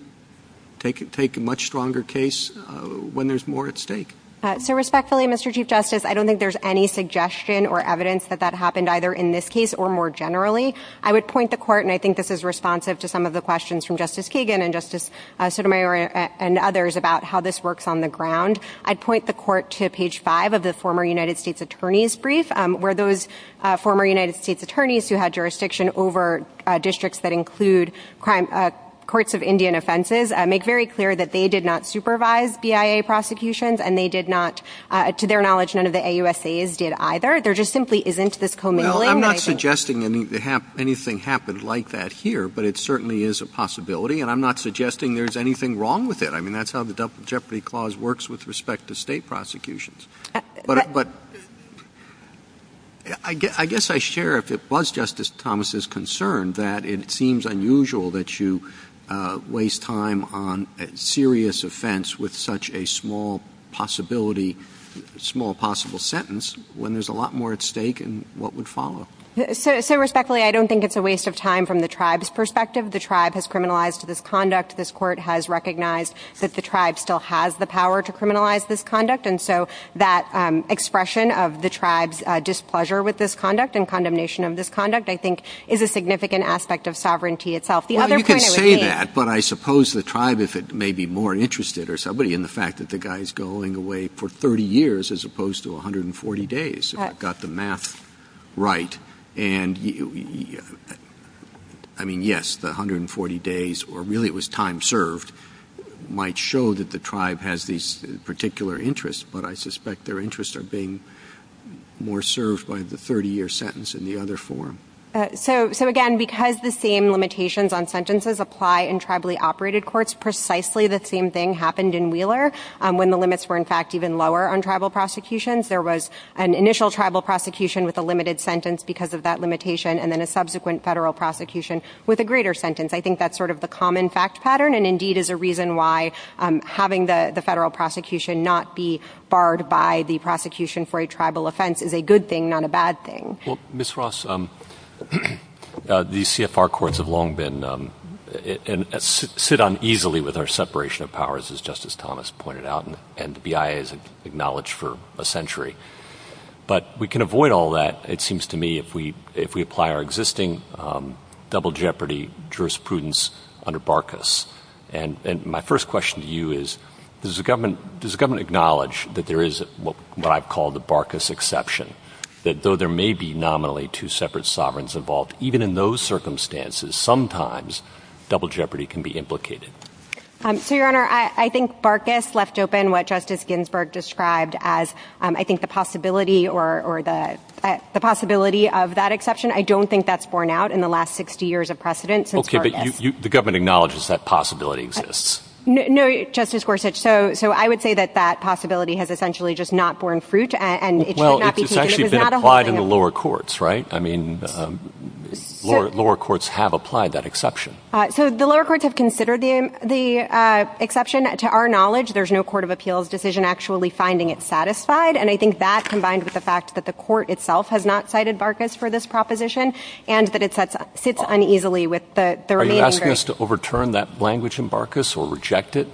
take a much stronger case when there's more at stake. So respectfully, Mr. Chief Justice, I don't think there's any suggestion or evidence that that happened either in this case or more generally. I would point the court, and I think this is responsive to some of the questions from Justice Kagan and Justice Sotomayor and others about how this works on the ground. I'd point the court to page five of the former United States attorney's brief, where those former United States attorneys who had jurisdiction over districts that include courts of Indian offenses make very clear that they did not supervise BIA prosecutions, and they did not, to their knowledge, none of the AUSAs did either. There just simply isn't this commingling. Well, I'm not suggesting anything happened like that here, but it certainly is a possibility, and I'm not suggesting there's anything wrong with it. I mean, that's how the Double Jeopardy Clause works with respect to state prosecutions. But I guess I share, if it was Justice Thomas' concern, that it seems unusual that you waste time on a serious offense with such a small possibility, small possible sentence when there's a lot more at stake and what would follow. So respectfully, I don't think it's a waste of time from the tribe's perspective. The tribe has criminalized this conduct. This court has recognized that the tribe still has the power to criminalize this conduct. And so that expression of the tribe's displeasure with this conduct and condemnation of this conduct, I think, is a significant aspect of sovereignty itself. The other point I would make — Well, you can say that, but I suppose the tribe, if it may be more interested or somebody, in the fact that the guy's going away for 30 years as opposed to 140 days, if I've got the math right. And, I mean, yes, the 140 days, or really it was time served, might show that the tribe has these particular interests. But I suspect their interests are being more served by the 30-year sentence in the other form. So, again, because the same limitations on sentences apply in tribally operated courts, precisely the same thing happened in Wheeler when the limits were, in fact, even lower on tribal prosecutions. There was an initial tribal prosecution with a limited sentence because of that limitation, and then a subsequent federal prosecution with a greater sentence. I think that's sort of the common fact pattern and, indeed, is a reason why having the federal prosecution not be barred by the prosecution for a tribal offense is a good thing, not a bad thing. Well, Ms. Ross, these CFR courts have long been and sit uneasily with our separation of powers, as Justice Thomas pointed out. And the BIA has acknowledged for a century. But we can avoid all that, it seems to me, if we apply our existing double jeopardy jurisprudence under Barkas. And my first question to you is, does the government acknowledge that there is what I've called the Barkas exception, that though there may be nominally two separate sovereigns involved, even in those circumstances, sometimes double jeopardy can be implicated? So, Your Honor, I think Barkas left open what Justice Ginsburg described as, I think, the possibility of that exception. I don't think that's borne out in the last 60 years of precedent since Barkas. Okay, but the government acknowledges that possibility exists. No, Justice Gorsuch. So I would say that that possibility has essentially just not borne fruit, and it should not be taken. Well, it's actually been applied in the lower courts, right? I mean, lower courts have applied that exception. So the lower courts have considered the exception. To our knowledge, there's no court of appeals decision actually finding it satisfied. And I think that, combined with the fact that the court itself has not cited Barkas for this proposition, and that it sits uneasily with the remaining jury. Are you asking us to overturn that language in Barkas or reject it?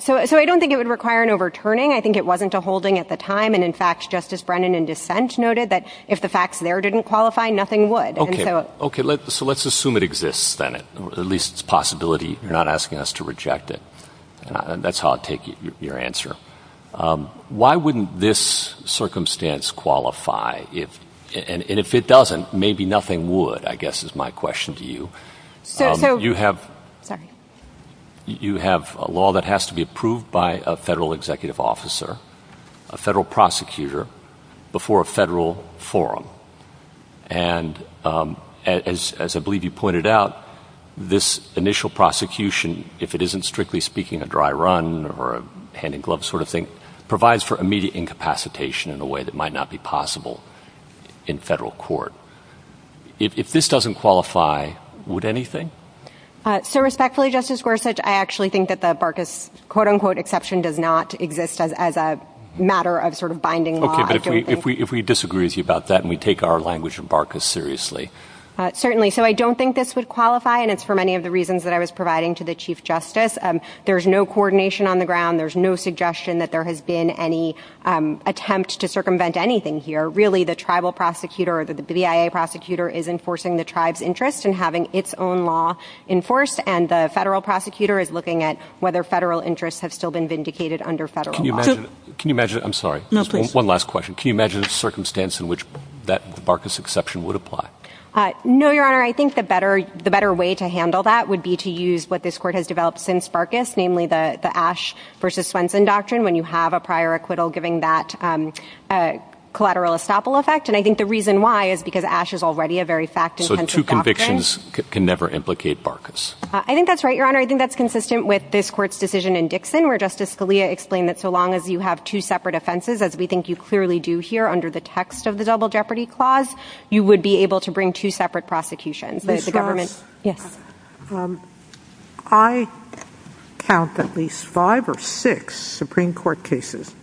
So I don't think it would require an overturning. I think it wasn't a holding at the time. And, in fact, Justice Brennan in dissent noted that if the facts there didn't qualify, nothing would. Okay. So let's assume it exists, then. At least it's a possibility. You're not asking us to reject it. That's how I'll take your answer. Why wouldn't this circumstance qualify? And if it doesn't, maybe nothing would, I guess is my question to you. You have a law that has to be approved by a federal executive officer, a federal prosecutor, before a federal forum. And, as I believe you pointed out, this initial prosecution, if it isn't, strictly speaking, a dry run or a hand-in-glove sort of thing, provides for immediate incapacitation in a way that might not be possible in federal court. If this doesn't qualify, would anything? So, respectfully, Justice Gorsuch, I actually think that the Barkas quote-unquote exception does not exist as a matter of sort of binding law. Okay, but if we disagree with you about that and we take our language of Barkas seriously. Certainly. So I don't think this would qualify, and it's for many of the reasons that I was providing to the Chief Justice. There's no coordination on the ground. There's no suggestion that there has been any attempt to circumvent anything here. Really, the tribal prosecutor or the BIA prosecutor is enforcing the tribe's interest in having its own law enforced, and the federal prosecutor is looking at whether federal interests have still been vindicated under federal law. Can you imagine – I'm sorry. No, please. One last question. Can you imagine a circumstance in which that Barkas exception would apply? No, Your Honor. I think the better way to handle that would be to use what this Court has developed since Barkas, namely the Ashe versus Swenson doctrine when you have a prior acquittal giving that collateral estoppel effect. And I think the reason why is because Ashe is already a very fact-intensive doctrine. So two convictions can never implicate Barkas. I think that's right, Your Honor. I think that's consistent with this Court's decision in Dixon, where Justice Scalia explained that so long as you have two separate offenses, as we think you clearly do here under the text of the Double Jeopardy Clause, you would be able to bring two separate prosecutions. Ms. Ross. Yes. I count at least five or six Supreme Court cases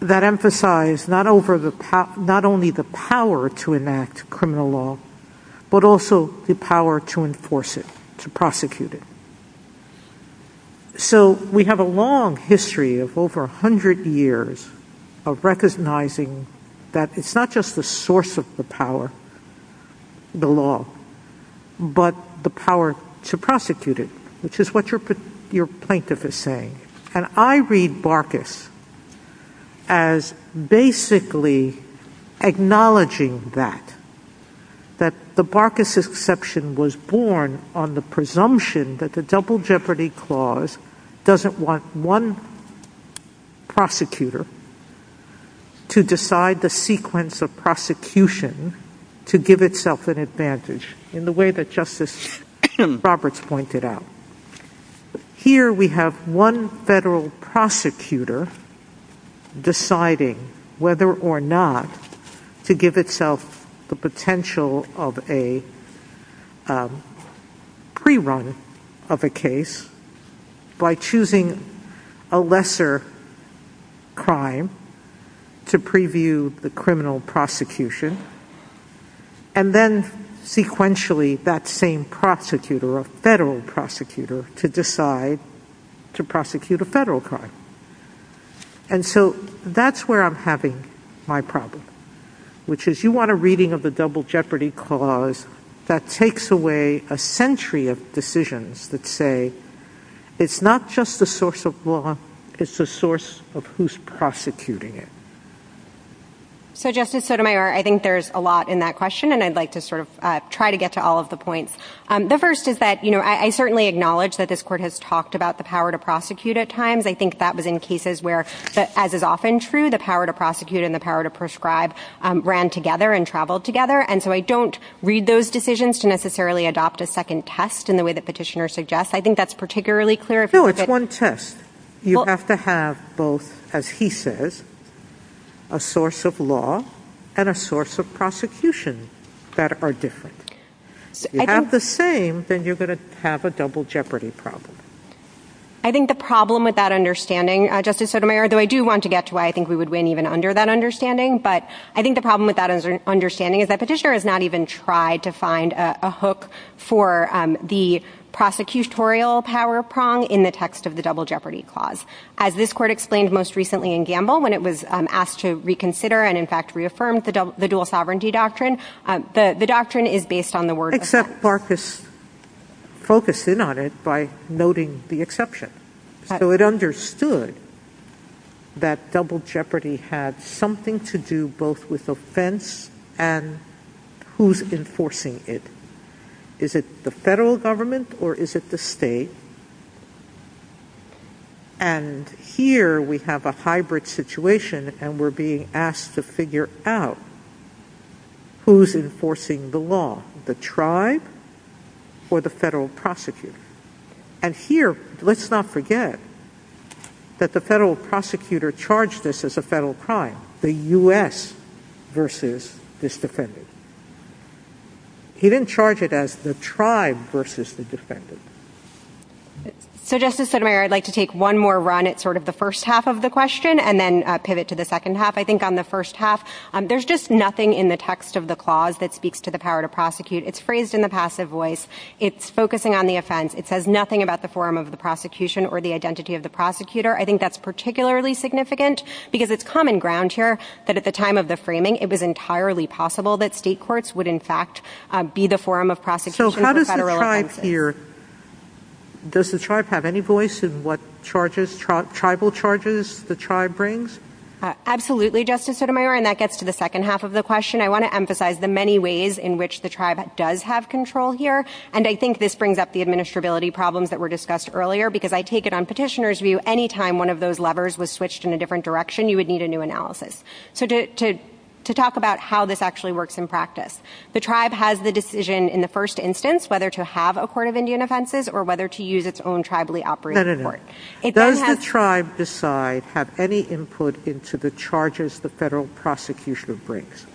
that emphasize not only the power to enact criminal law, but also the power to enforce it, to prosecute it. So we have a long history of over 100 years of recognizing that it's not just the source of the power, the law, but the power to prosecute it, which is what your plaintiff is saying. And I read Barkas as basically acknowledging that, that the Barkas exception was born on the presumption that the Double Jeopardy Clause doesn't want one prosecutor to decide the sequence of prosecution to give itself an advantage, in the way that Justice Roberts pointed out. Here we have one federal prosecutor deciding whether or not to give itself the potential of a pre-run of a case by choosing a lesser crime to preview the criminal prosecution, and then sequentially that same prosecutor, a federal prosecutor, to decide to prosecute a federal crime. And so that's where I'm having my problem, which is you want a reading of the Double Jeopardy Clause that takes away a century of decisions that say, it's not just the source of law, it's the source of who's prosecuting it. So Justice Sotomayor, I think there's a lot in that question, and I'd like to sort of try to get to all of the points. The first is that, you know, I certainly acknowledge that this court has talked about the power to prosecute at times. I think that was in cases where, as is often true, the power to prosecute and the power to prescribe ran together and traveled together. And so I don't read those decisions to necessarily adopt a second test in the way that Petitioner suggests. I think that's particularly clear. No, it's one test. You have to have both, as he says, a source of law and a source of prosecution that are different. If you have the same, then you're going to have a double jeopardy problem. I think the problem with that understanding, Justice Sotomayor, though I do want to get to why I think we would win even under that understanding, but I think the problem with that understanding is that Petitioner has not even tried to find a hook for the prosecutorial power prong in the text of the double jeopardy clause. As this court explained most recently in Gamble, when it was asked to reconsider and, in fact, reaffirmed the dual sovereignty doctrine, the doctrine is based on the word of the text. Except Barkis focused in on it by noting the exception. So it understood that double jeopardy had something to do both with offense and who's enforcing it. Is it the federal government or is it the state? And here we have a hybrid situation and we're being asked to figure out who's enforcing the law, the tribe or the federal prosecutor. And here, let's not forget that the federal prosecutor charged this as a federal crime, the U.S. versus this defendant. He didn't charge it as the tribe versus the defendant. So, Justice Sotomayor, I'd like to take one more run at sort of the first half of the question and then pivot to the second half. I think on the first half, there's just nothing in the text of the clause that speaks to the power to prosecute. It's phrased in the passive voice. It's focusing on the offense. It says nothing about the forum of the prosecution or the identity of the prosecutor. I think that's particularly significant because it's common ground here that at the time of the framing, it was entirely possible that state courts would, in fact, be the forum of prosecution for federal offenses. So how does the tribe hear? Does the tribe have any voice in what charges, tribal charges the tribe brings? Absolutely, Justice Sotomayor, and that gets to the second half of the question. I want to emphasize the many ways in which the tribe does have control here, and I think this brings up the administrability problems that were discussed earlier because I take it on petitioner's view any time one of those levers was switched in a different direction, you would need a new analysis. So to talk about how this actually works in practice, the tribe has the decision in the first instance whether to have a court of Indian offenses or whether to use its own tribally operating court. Does the tribe decide have any input into the charges the federal prosecution brings?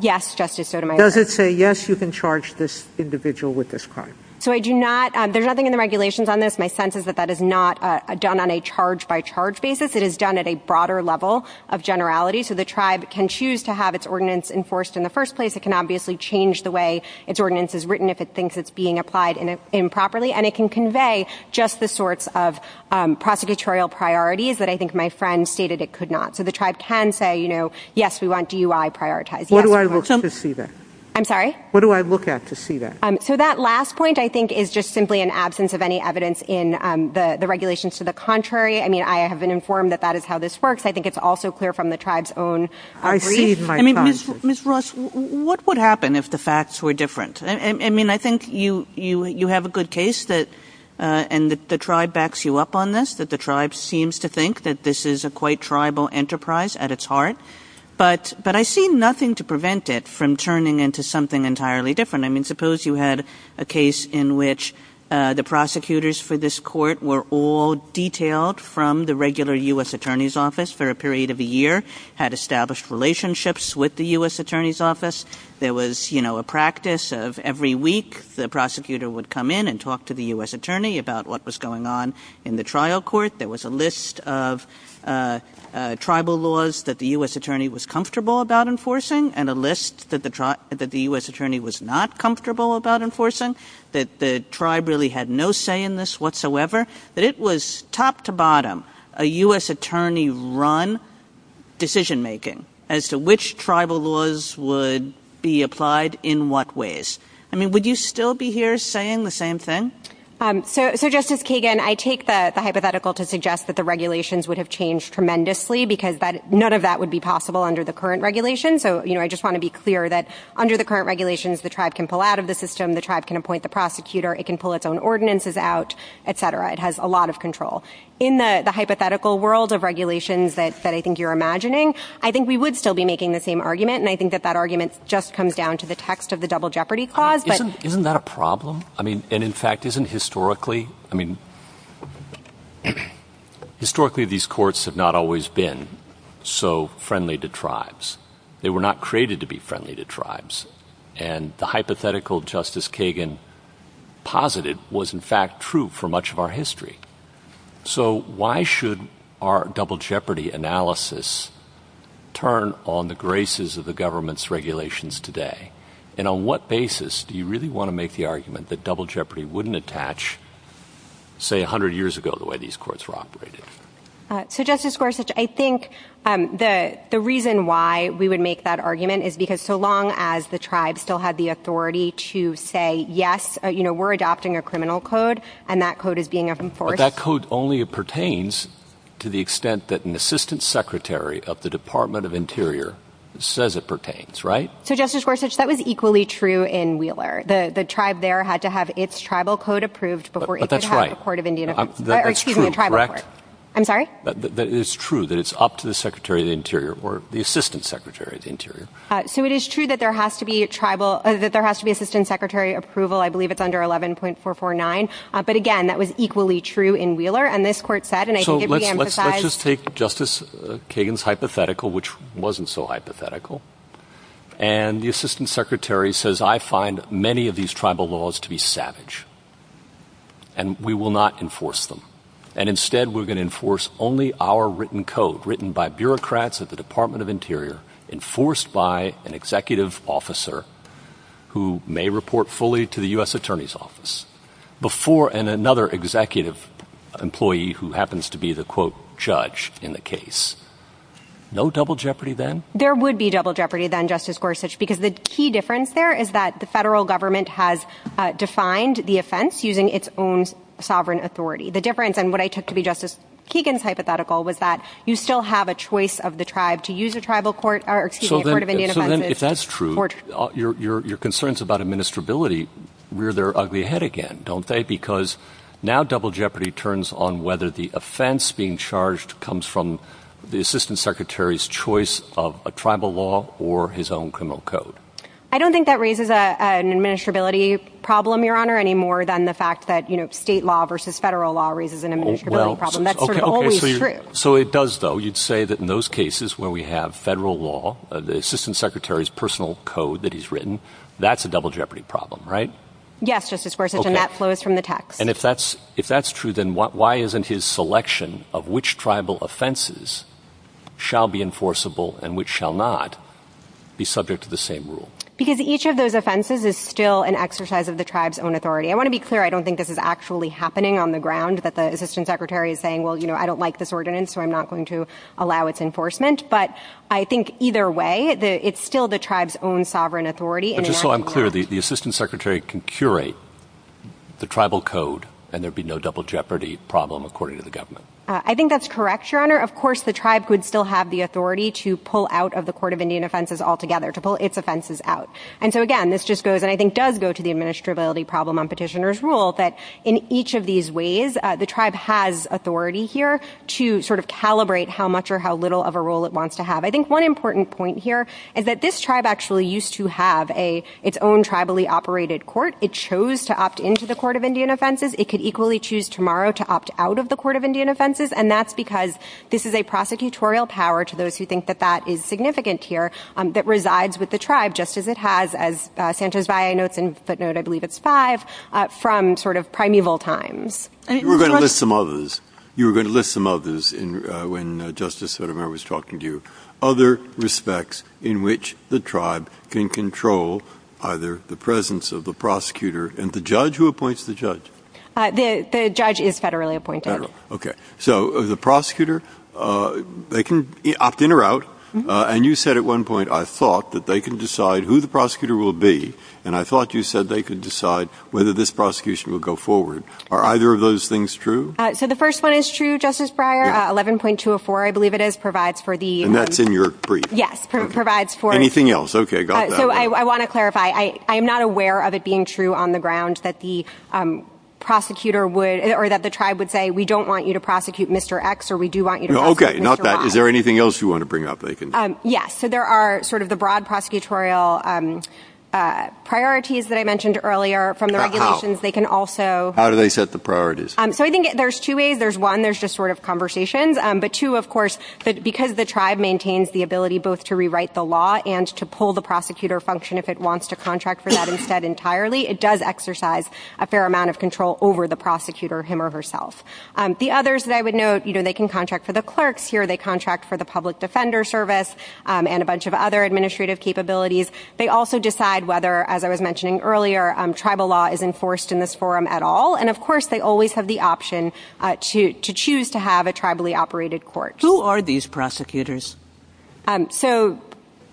Yes, Justice Sotomayor. Does it say, yes, you can charge this individual with this crime? So I do not – there's nothing in the regulations on this. My sense is that that is not done on a charge-by-charge basis. It is done at a broader level of generality, so the tribe can choose to have its ordinance enforced in the first place. It can obviously change the way its ordinance is written if it thinks it's being applied improperly, and it can convey just the sorts of prosecutorial priorities that I think my friend stated it could not. So the tribe can say, you know, yes, we want DUI prioritized. What do I look at to see that? I'm sorry? What do I look at to see that? So that last point, I think, is just simply an absence of any evidence in the regulations to the contrary. I mean, I have been informed that that is how this works. I think it's also clear from the tribe's own brief. I mean, Ms. Ross, what would happen if the facts were different? I mean, I think you have a good case, and the tribe backs you up on this, that the tribe seems to think that this is a quite tribal enterprise at its heart, but I see nothing to prevent it from turning into something entirely different. I mean, suppose you had a case in which the prosecutors for this court were all detailed from the regular U.S. Attorney's Office for a period of a year, had established relationships with the U.S. Every week the prosecutor would come in and talk to the U.S. attorney about what was going on in the trial court. There was a list of tribal laws that the U.S. attorney was comfortable about enforcing and a list that the U.S. attorney was not comfortable about enforcing, that the tribe really had no say in this whatsoever, that it was top-to-bottom, a U.S. attorney-run decision-making as to which tribal laws would be applied in what ways. I mean, would you still be here saying the same thing? So, Justice Kagan, I take the hypothetical to suggest that the regulations would have changed tremendously because none of that would be possible under the current regulations. So, you know, I just want to be clear that under the current regulations the tribe can pull out of the system, the tribe can appoint the prosecutor, it can pull its own ordinances out, et cetera. It has a lot of control. In the hypothetical world of regulations that I think you're imagining, I think we would still be making the same argument, and I think that that argument just comes down to the text of the Double Jeopardy Clause. Isn't that a problem? I mean, and in fact, isn't historically, I mean, historically these courts have not always been so friendly to tribes. They were not created to be friendly to tribes. And the hypothetical Justice Kagan posited was, in fact, true for much of our history. So why should our double jeopardy analysis turn on the graces of the government's regulations today? And on what basis do you really want to make the argument that double jeopardy wouldn't attach, say, 100 years ago the way these courts were operated? So, Justice Gorsuch, I think the reason why we would make that argument is because so long as the tribe still had the authority to say, yes, you know, we're adopting a criminal code and that code is being enforced. But that code only pertains to the extent that an assistant secretary of the Department of Interior says it pertains, right? So, Justice Gorsuch, that was equally true in Wheeler. The tribe there had to have its tribal code approved before it could have a court of Indian – or excuse me, a tribal court. That's true, correct? I'm sorry? It's true that it's up to the secretary of the Interior or the assistant secretary of the Interior. So it is true that there has to be a tribal – that there has to be assistant secretary approval. I believe it's under 11.449. But, again, that was equally true in Wheeler. And this court said, and I think it reemphasized – So let's just take Justice Kagan's hypothetical, which wasn't so hypothetical. And the assistant secretary says, I find many of these tribal laws to be savage. And we will not enforce them. And instead, we're going to enforce only our written code, written by bureaucrats at the Department of Interior, enforced by an executive officer who may report fully to the U.S. Attorney's Office, before – and another executive employee who happens to be the, quote, judge in the case. No double jeopardy then? There would be double jeopardy then, Justice Gorsuch, because the key difference there is that the federal government has defined the offense using its own sovereign authority. The difference, and what I took to be Justice Kagan's hypothetical, was that you still have a choice of the tribe to use a tribal court – or, excuse me, a court of Indian offenses. So then, if that's true, your concerns about administrability rear their ugly head again, don't they? Because now double jeopardy turns on whether the offense being charged comes from the assistant secretary's choice of a tribal law or his own criminal code. I don't think that raises an administrability problem, Your Honor, any more than the fact that state law versus federal law raises an administrability problem. That's sort of always true. So it does, though. You'd say that in those cases where we have federal law, the assistant secretary's personal code that he's written, that's a double jeopardy problem, right? Yes, Justice Gorsuch, and that flows from the text. And if that's true, then why isn't his selection of which tribal offenses shall be enforceable and which shall not be subject to the same rule? Because each of those offenses is still an exercise of the tribe's own authority. I want to be clear, I don't think this is actually happening on the ground, that the assistant secretary is saying, well, you know, I don't like this ordinance, so I'm not going to allow its enforcement. But I think either way, it's still the tribe's own sovereign authority. But just so I'm clear, the assistant secretary can curate the tribal code and there'd be no double jeopardy problem, according to the government. I think that's correct, Your Honor. Of course, the tribe could still have the authority to pull out of the Court of Indian Offenses altogether, to pull its offenses out. And so, again, this just goes, and I think does go to the administrability problem on petitioner's rule, that in each of these ways, the tribe has authority here to sort of calibrate how much or how little of a role it wants to have. I think one important point here is that this tribe actually used to have its own tribally operated court. It chose to opt into the Court of Indian Offenses. It could equally choose tomorrow to opt out of the Court of Indian Offenses, and that's because this is a prosecutorial power, to those who think that that is significant here, that resides with the tribe, just as it has, as Sanchez-Valle notes in footnote, I believe it's five, from sort of primeval times. You were going to list some others. You were going to list some others when Justice Sotomayor was talking to you. Other respects in which the tribe can control either the presence of the prosecutor and the judge who appoints the judge. The judge is federally appointed. Federal. Okay. So the prosecutor, they can opt in or out. And you said at one point, I thought that they can decide who the prosecutor will be, and I thought you said they could decide whether this prosecution will go forward, and are either of those things true? So the first one is true, Justice Breyer. 11.204, I believe it is, provides for the. And that's in your brief. Yes. Provides for. Anything else? Okay. So I want to clarify. I am not aware of it being true on the ground that the prosecutor would, or that the tribe would say we don't want you to prosecute Mr. X or we do want you to prosecute Mr. Y. Okay. Not that. Is there anything else you want to bring up? Yes. So there are sort of the broad prosecutorial priorities that I mentioned earlier from the regulations. They can also. How do they set the priorities? So I think there's two ways. There's one, there's just sort of conversations. But two, of course, because the tribe maintains the ability both to rewrite the law and to pull the prosecutor function if it wants to contract for that instead entirely, it does exercise a fair amount of control over the prosecutor, him or herself. The others that I would note, you know, they can contract for the clerks here. They contract for the public defender service and a bunch of other administrative capabilities. They also decide whether, as I was mentioning earlier, tribal law is enforced in this forum at all. And, of course, they always have the option to choose to have a tribally operated court. Who are these prosecutors? So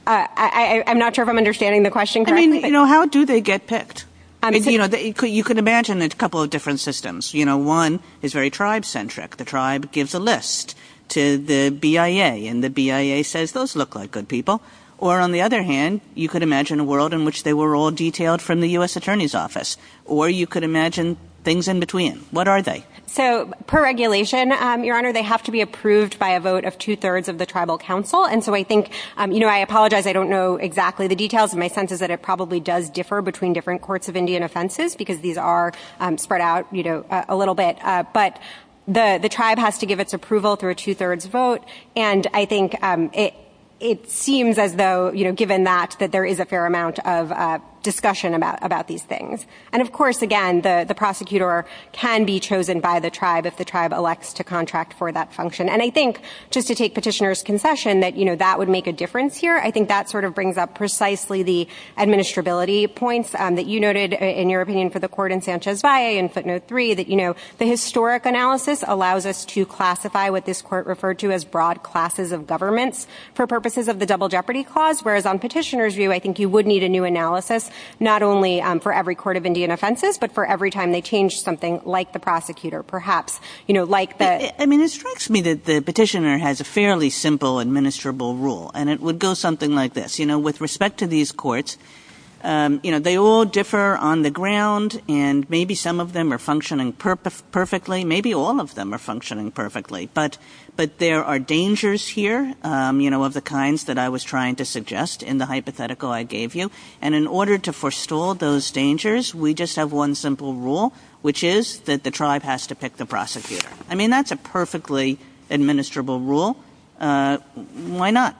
I'm not sure if I'm understanding the question correctly. I mean, you know, how do they get picked? You know, you can imagine a couple of different systems. You know, one is very tribe-centric. The tribe gives a list to the BIA, and the BIA says those look like good people. Or, on the other hand, you could imagine a world in which they were all detailed from the U.S. Attorney's Office. Or you could imagine things in between. What are they? So, per regulation, Your Honor, they have to be approved by a vote of two-thirds of the tribal council. And so I think, you know, I apologize I don't know exactly the details. My sense is that it probably does differ between different courts of Indian offenses because these are spread out, you know, a little bit. But the tribe has to give its approval through a two-thirds vote. And I think it seems as though, you know, given that, that there is a fair amount of discussion about these things. And, of course, again, the prosecutor can be chosen by the tribe if the tribe elects to contract for that function. And I think, just to take Petitioner's concession, that, you know, that would make a difference here. I think that sort of brings up precisely the administrability points that you noted in your opinion for the court in Sanchez-Valle that, you know, the historic analysis allows us to classify what this court referred to as broad classes of governments for purposes of the Double Jeopardy Clause. Whereas on Petitioner's view, I think you would need a new analysis, not only for every court of Indian offenses, but for every time they change something like the prosecutor, perhaps, you know, like the I mean, it strikes me that the Petitioner has a fairly simple administrable rule. And it would go something like this. You know, with respect to these courts, you know, they all differ on the ground. And maybe some of them are functioning perfectly. Maybe all of them are functioning perfectly. But there are dangers here, you know, of the kinds that I was trying to suggest in the hypothetical I gave you. And in order to forestall those dangers, we just have one simple rule, which is that the tribe has to pick the prosecutor. I mean, that's a perfectly administrable rule. Why not?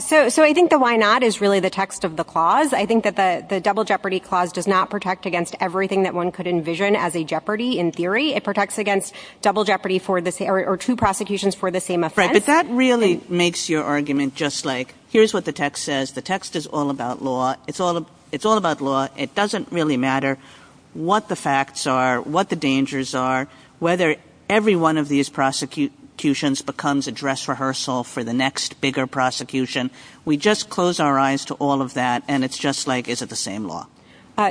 So I think the why not is really the text of the clause. I think that the Double Jeopardy Clause does not protect against everything that one could envision as a jeopardy in theory. It protects against double jeopardy or two prosecutions for the same offense. But that really makes your argument just like, here's what the text says. The text is all about law. It's all about law. It doesn't really matter what the facts are, what the dangers are, whether every one of these prosecutions becomes a dress rehearsal for the next bigger prosecution. We just close our eyes to all of that, and it's just like, is it the same law?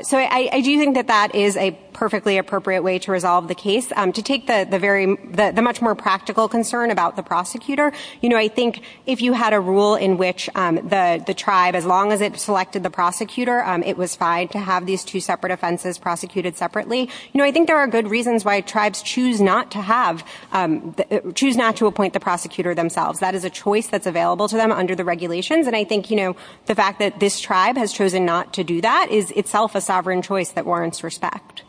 So I do think that that is a perfectly appropriate way to resolve the case. To take the much more practical concern about the prosecutor, you know, I think if you had a rule in which the tribe, as long as it selected the prosecutor, it was fine to have these two separate offenses prosecuted separately. You know, I think there are good reasons why tribes choose not to appoint the prosecutor themselves. That is a choice that's available to them under the regulations, and I think, you know, the fact that this tribe has chosen not to do that is itself a sovereign choice that warrants respect.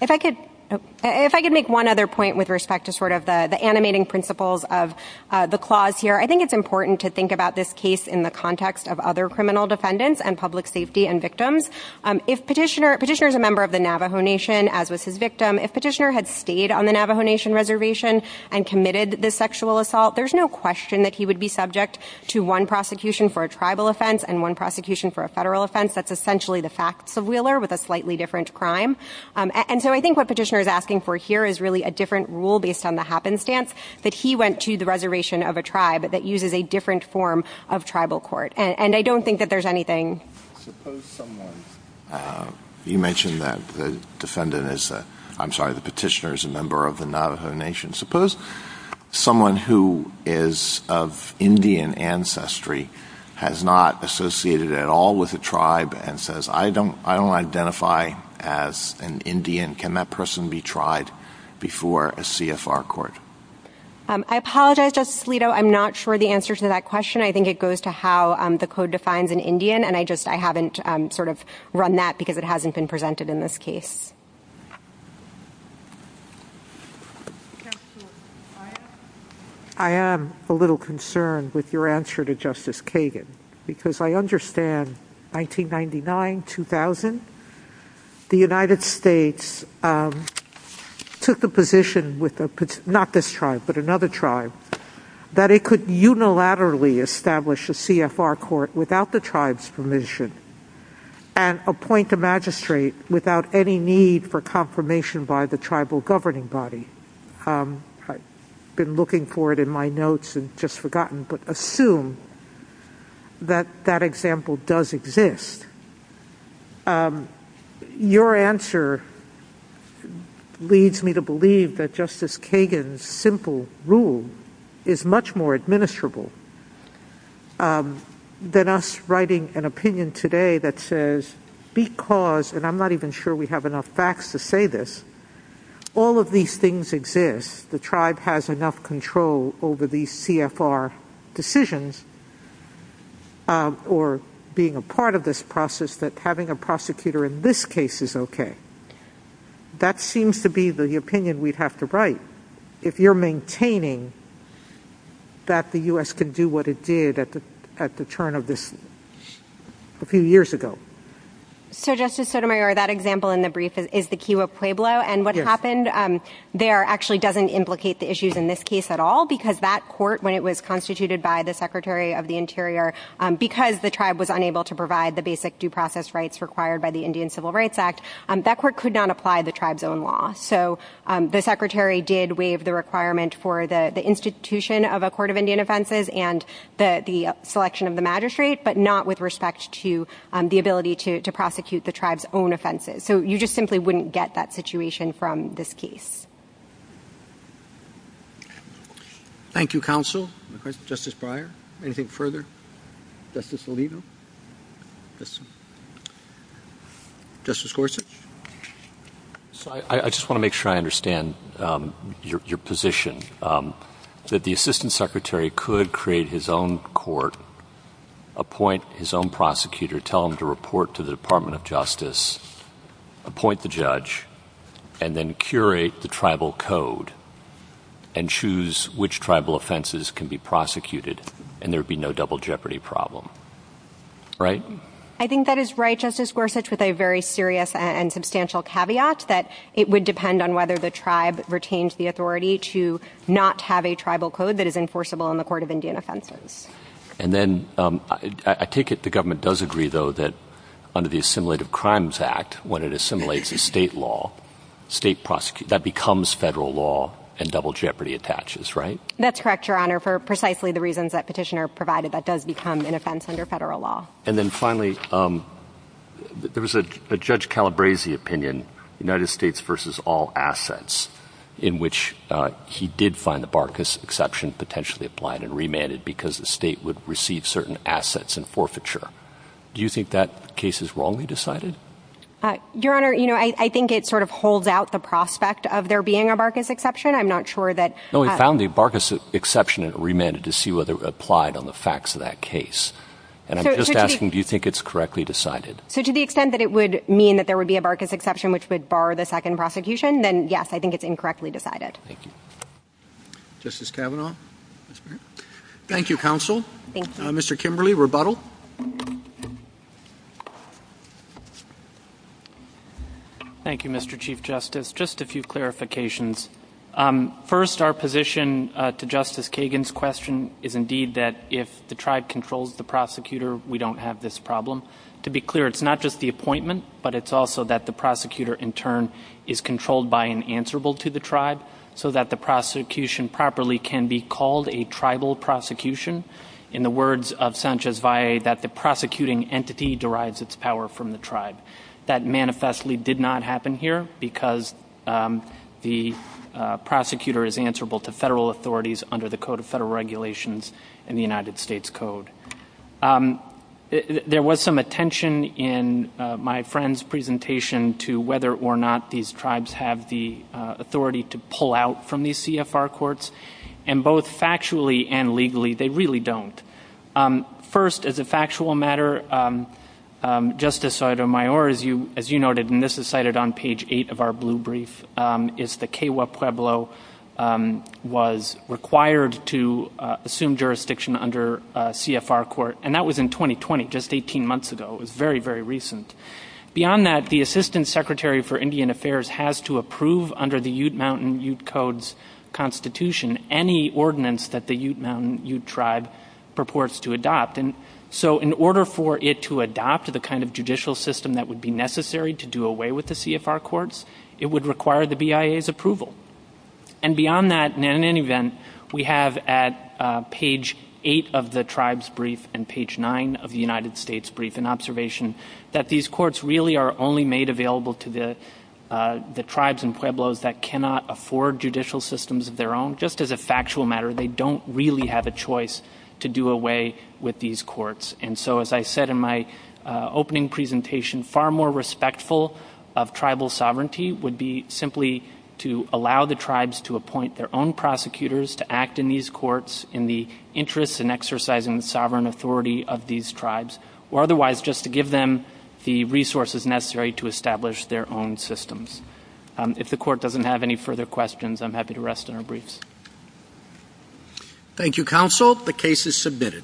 If I could make one other point with respect to sort of the animating principles of the clause here, I think it's important to think about this case in the context of other criminal defendants and public safety and victims. If Petitioner is a member of the Navajo Nation, as was his victim, if Petitioner had stayed on the Navajo Nation reservation and committed this sexual assault, there's no question that he would be subject to one prosecution for a tribal offense and one prosecution for a federal offense. That's essentially the facts of Wheeler with a slightly different crime. And so I think what Petitioner is asking for here is really a different rule based on the happenstance that he went to the reservation of a tribe that uses a different form of tribal court. And I don't think that there's anything. Suppose someone – you mentioned that the defendant is a – I'm sorry, the Petitioner is a member of the Navajo Nation. Suppose someone who is of Indian ancestry has not associated at all with a tribe and says, I don't identify as an Indian, can that person be tried before a CFR court? I apologize, Justice Alito. I'm not sure the answer to that question. I think it goes to how the code defines an Indian, and I just – I haven't sort of run that because it hasn't been presented in this case. I am a little concerned with your answer to Justice Kagan, because I understand 1999, 2000, the United States took the position with a – not this tribe, but another tribe – that it could unilaterally establish a CFR court without the tribe's permission and appoint a magistrate without any need for confirmation by the tribal governing body. I've been looking for it in my notes and just forgotten, but assume that that example does exist. Your answer leads me to believe that Justice Kagan's simple rule is much more administrable than us writing an opinion today that says, because – and I'm not even sure we have enough facts to say this – all of these things exist. The tribe has enough control over these CFR decisions or being a part of this process that having a prosecutor in this case is okay. That seems to be the opinion we'd have to write. If you're maintaining that the U.S. can do what it did at the turn of this – a few years ago. So, Justice Sotomayor, that example in the brief is the Kewa Pueblo, and what happened there actually doesn't implicate the issues in this case at all, because that court, when it was constituted by the Secretary of the Interior, because the tribe was unable to provide the basic due process rights required by the Indian Civil Rights Act, that court could not apply the tribe's own law. So, the Secretary did waive the requirement for the institution of a court of Indian offenses and the selection of the magistrate, but not with respect to the ability to prosecute the tribe's own offenses. So, you just simply wouldn't get that situation from this case. Thank you, counsel. Justice Breyer, anything further? Justice Alito? Justice Gorsuch? So, I just want to make sure I understand your position, that the Assistant Secretary could create his own court, appoint his own prosecutor, tell him to report to the Department of Justice, appoint the judge, and then curate the tribal code and choose which tribal offenses can be prosecuted, and there would be no double jeopardy problem, right? I think that is right, Justice Gorsuch, with a very serious and substantial caveat that it would depend on whether the tribe retained the authority to not have a tribal code that is enforceable in the court of Indian offenses. And then, I take it the government does agree, though, that under the Assimilative Crimes Act, when it assimilates a state law, that becomes federal law and double jeopardy attaches, right? That's correct, Your Honor, for precisely the reasons that Petitioner provided, that does become an offense under federal law. And then finally, there was a Judge Calabresi opinion, United States versus all assets, in which he did find the Barkas exception potentially applied and remanded because the state would receive certain assets in forfeiture. Do you think that case is wrongly decided? Your Honor, you know, I think it sort of holds out the prospect of there being a Barkas exception. I'm not sure that – No, he found the Barkas exception and remanded to see whether it applied on the facts of that case. And I'm just asking, do you think it's correctly decided? So to the extent that it would mean that there would be a Barkas exception, which would bar the second prosecution, then, yes, I think it's incorrectly decided. Thank you. Justice Kavanaugh. Thank you, counsel. Mr. Kimberly, rebuttal. Thank you, Mr. Chief Justice. Just a few clarifications. First, our position to Justice Kagan's question is indeed that if the tribe controls the prosecutor, we don't have this problem. To be clear, it's not just the appointment, but it's also that the prosecutor in turn is controlled by and answerable to the tribe so that the prosecution properly can be called a tribal prosecution. In the words of Sanchez Valle, that the prosecuting entity derives its power from the tribe. That manifestly did not happen here because the prosecutor is answerable to federal authorities under the Code of Federal Regulations and the United States Code. There was some attention in my friend's presentation to whether or not these tribes have the authority to pull out from these CFR courts, and both factually and legally, they really don't. First, as a factual matter, Justice Sotomayor, as you noted, and this is cited on page 8 of our blue brief, is the Kewa Pueblo was required to assume jurisdiction under a CFR court, and that was in 2020, just 18 months ago. It was very, very recent. Beyond that, the Assistant Secretary for Indian Affairs has to approve under the Ute Mountain Ute Codes Constitution any ordinance that the Ute Mountain Ute tribe purports to adopt. And so in order for it to adopt the kind of judicial system that would be necessary to do away with the CFR courts, it would require the BIA's approval. And beyond that, in any event, we have at page 8 of the tribes brief and page 9 of the United States brief an observation that these courts really are only made available to the tribes and pueblos that cannot afford judicial systems of their own. Just as a factual matter, they don't really have a choice to do away with these courts. And so as I said in my opening presentation, far more respectful of tribal sovereignty would be simply to allow the tribes to appoint their own prosecutors to act in these courts in the interests and exercising the sovereign authority of these tribes, or otherwise just to give them the resources necessary to establish their own systems. If the Court doesn't have any further questions, I'm happy to rest in our briefs. Thank you, Counsel. The case is submitted.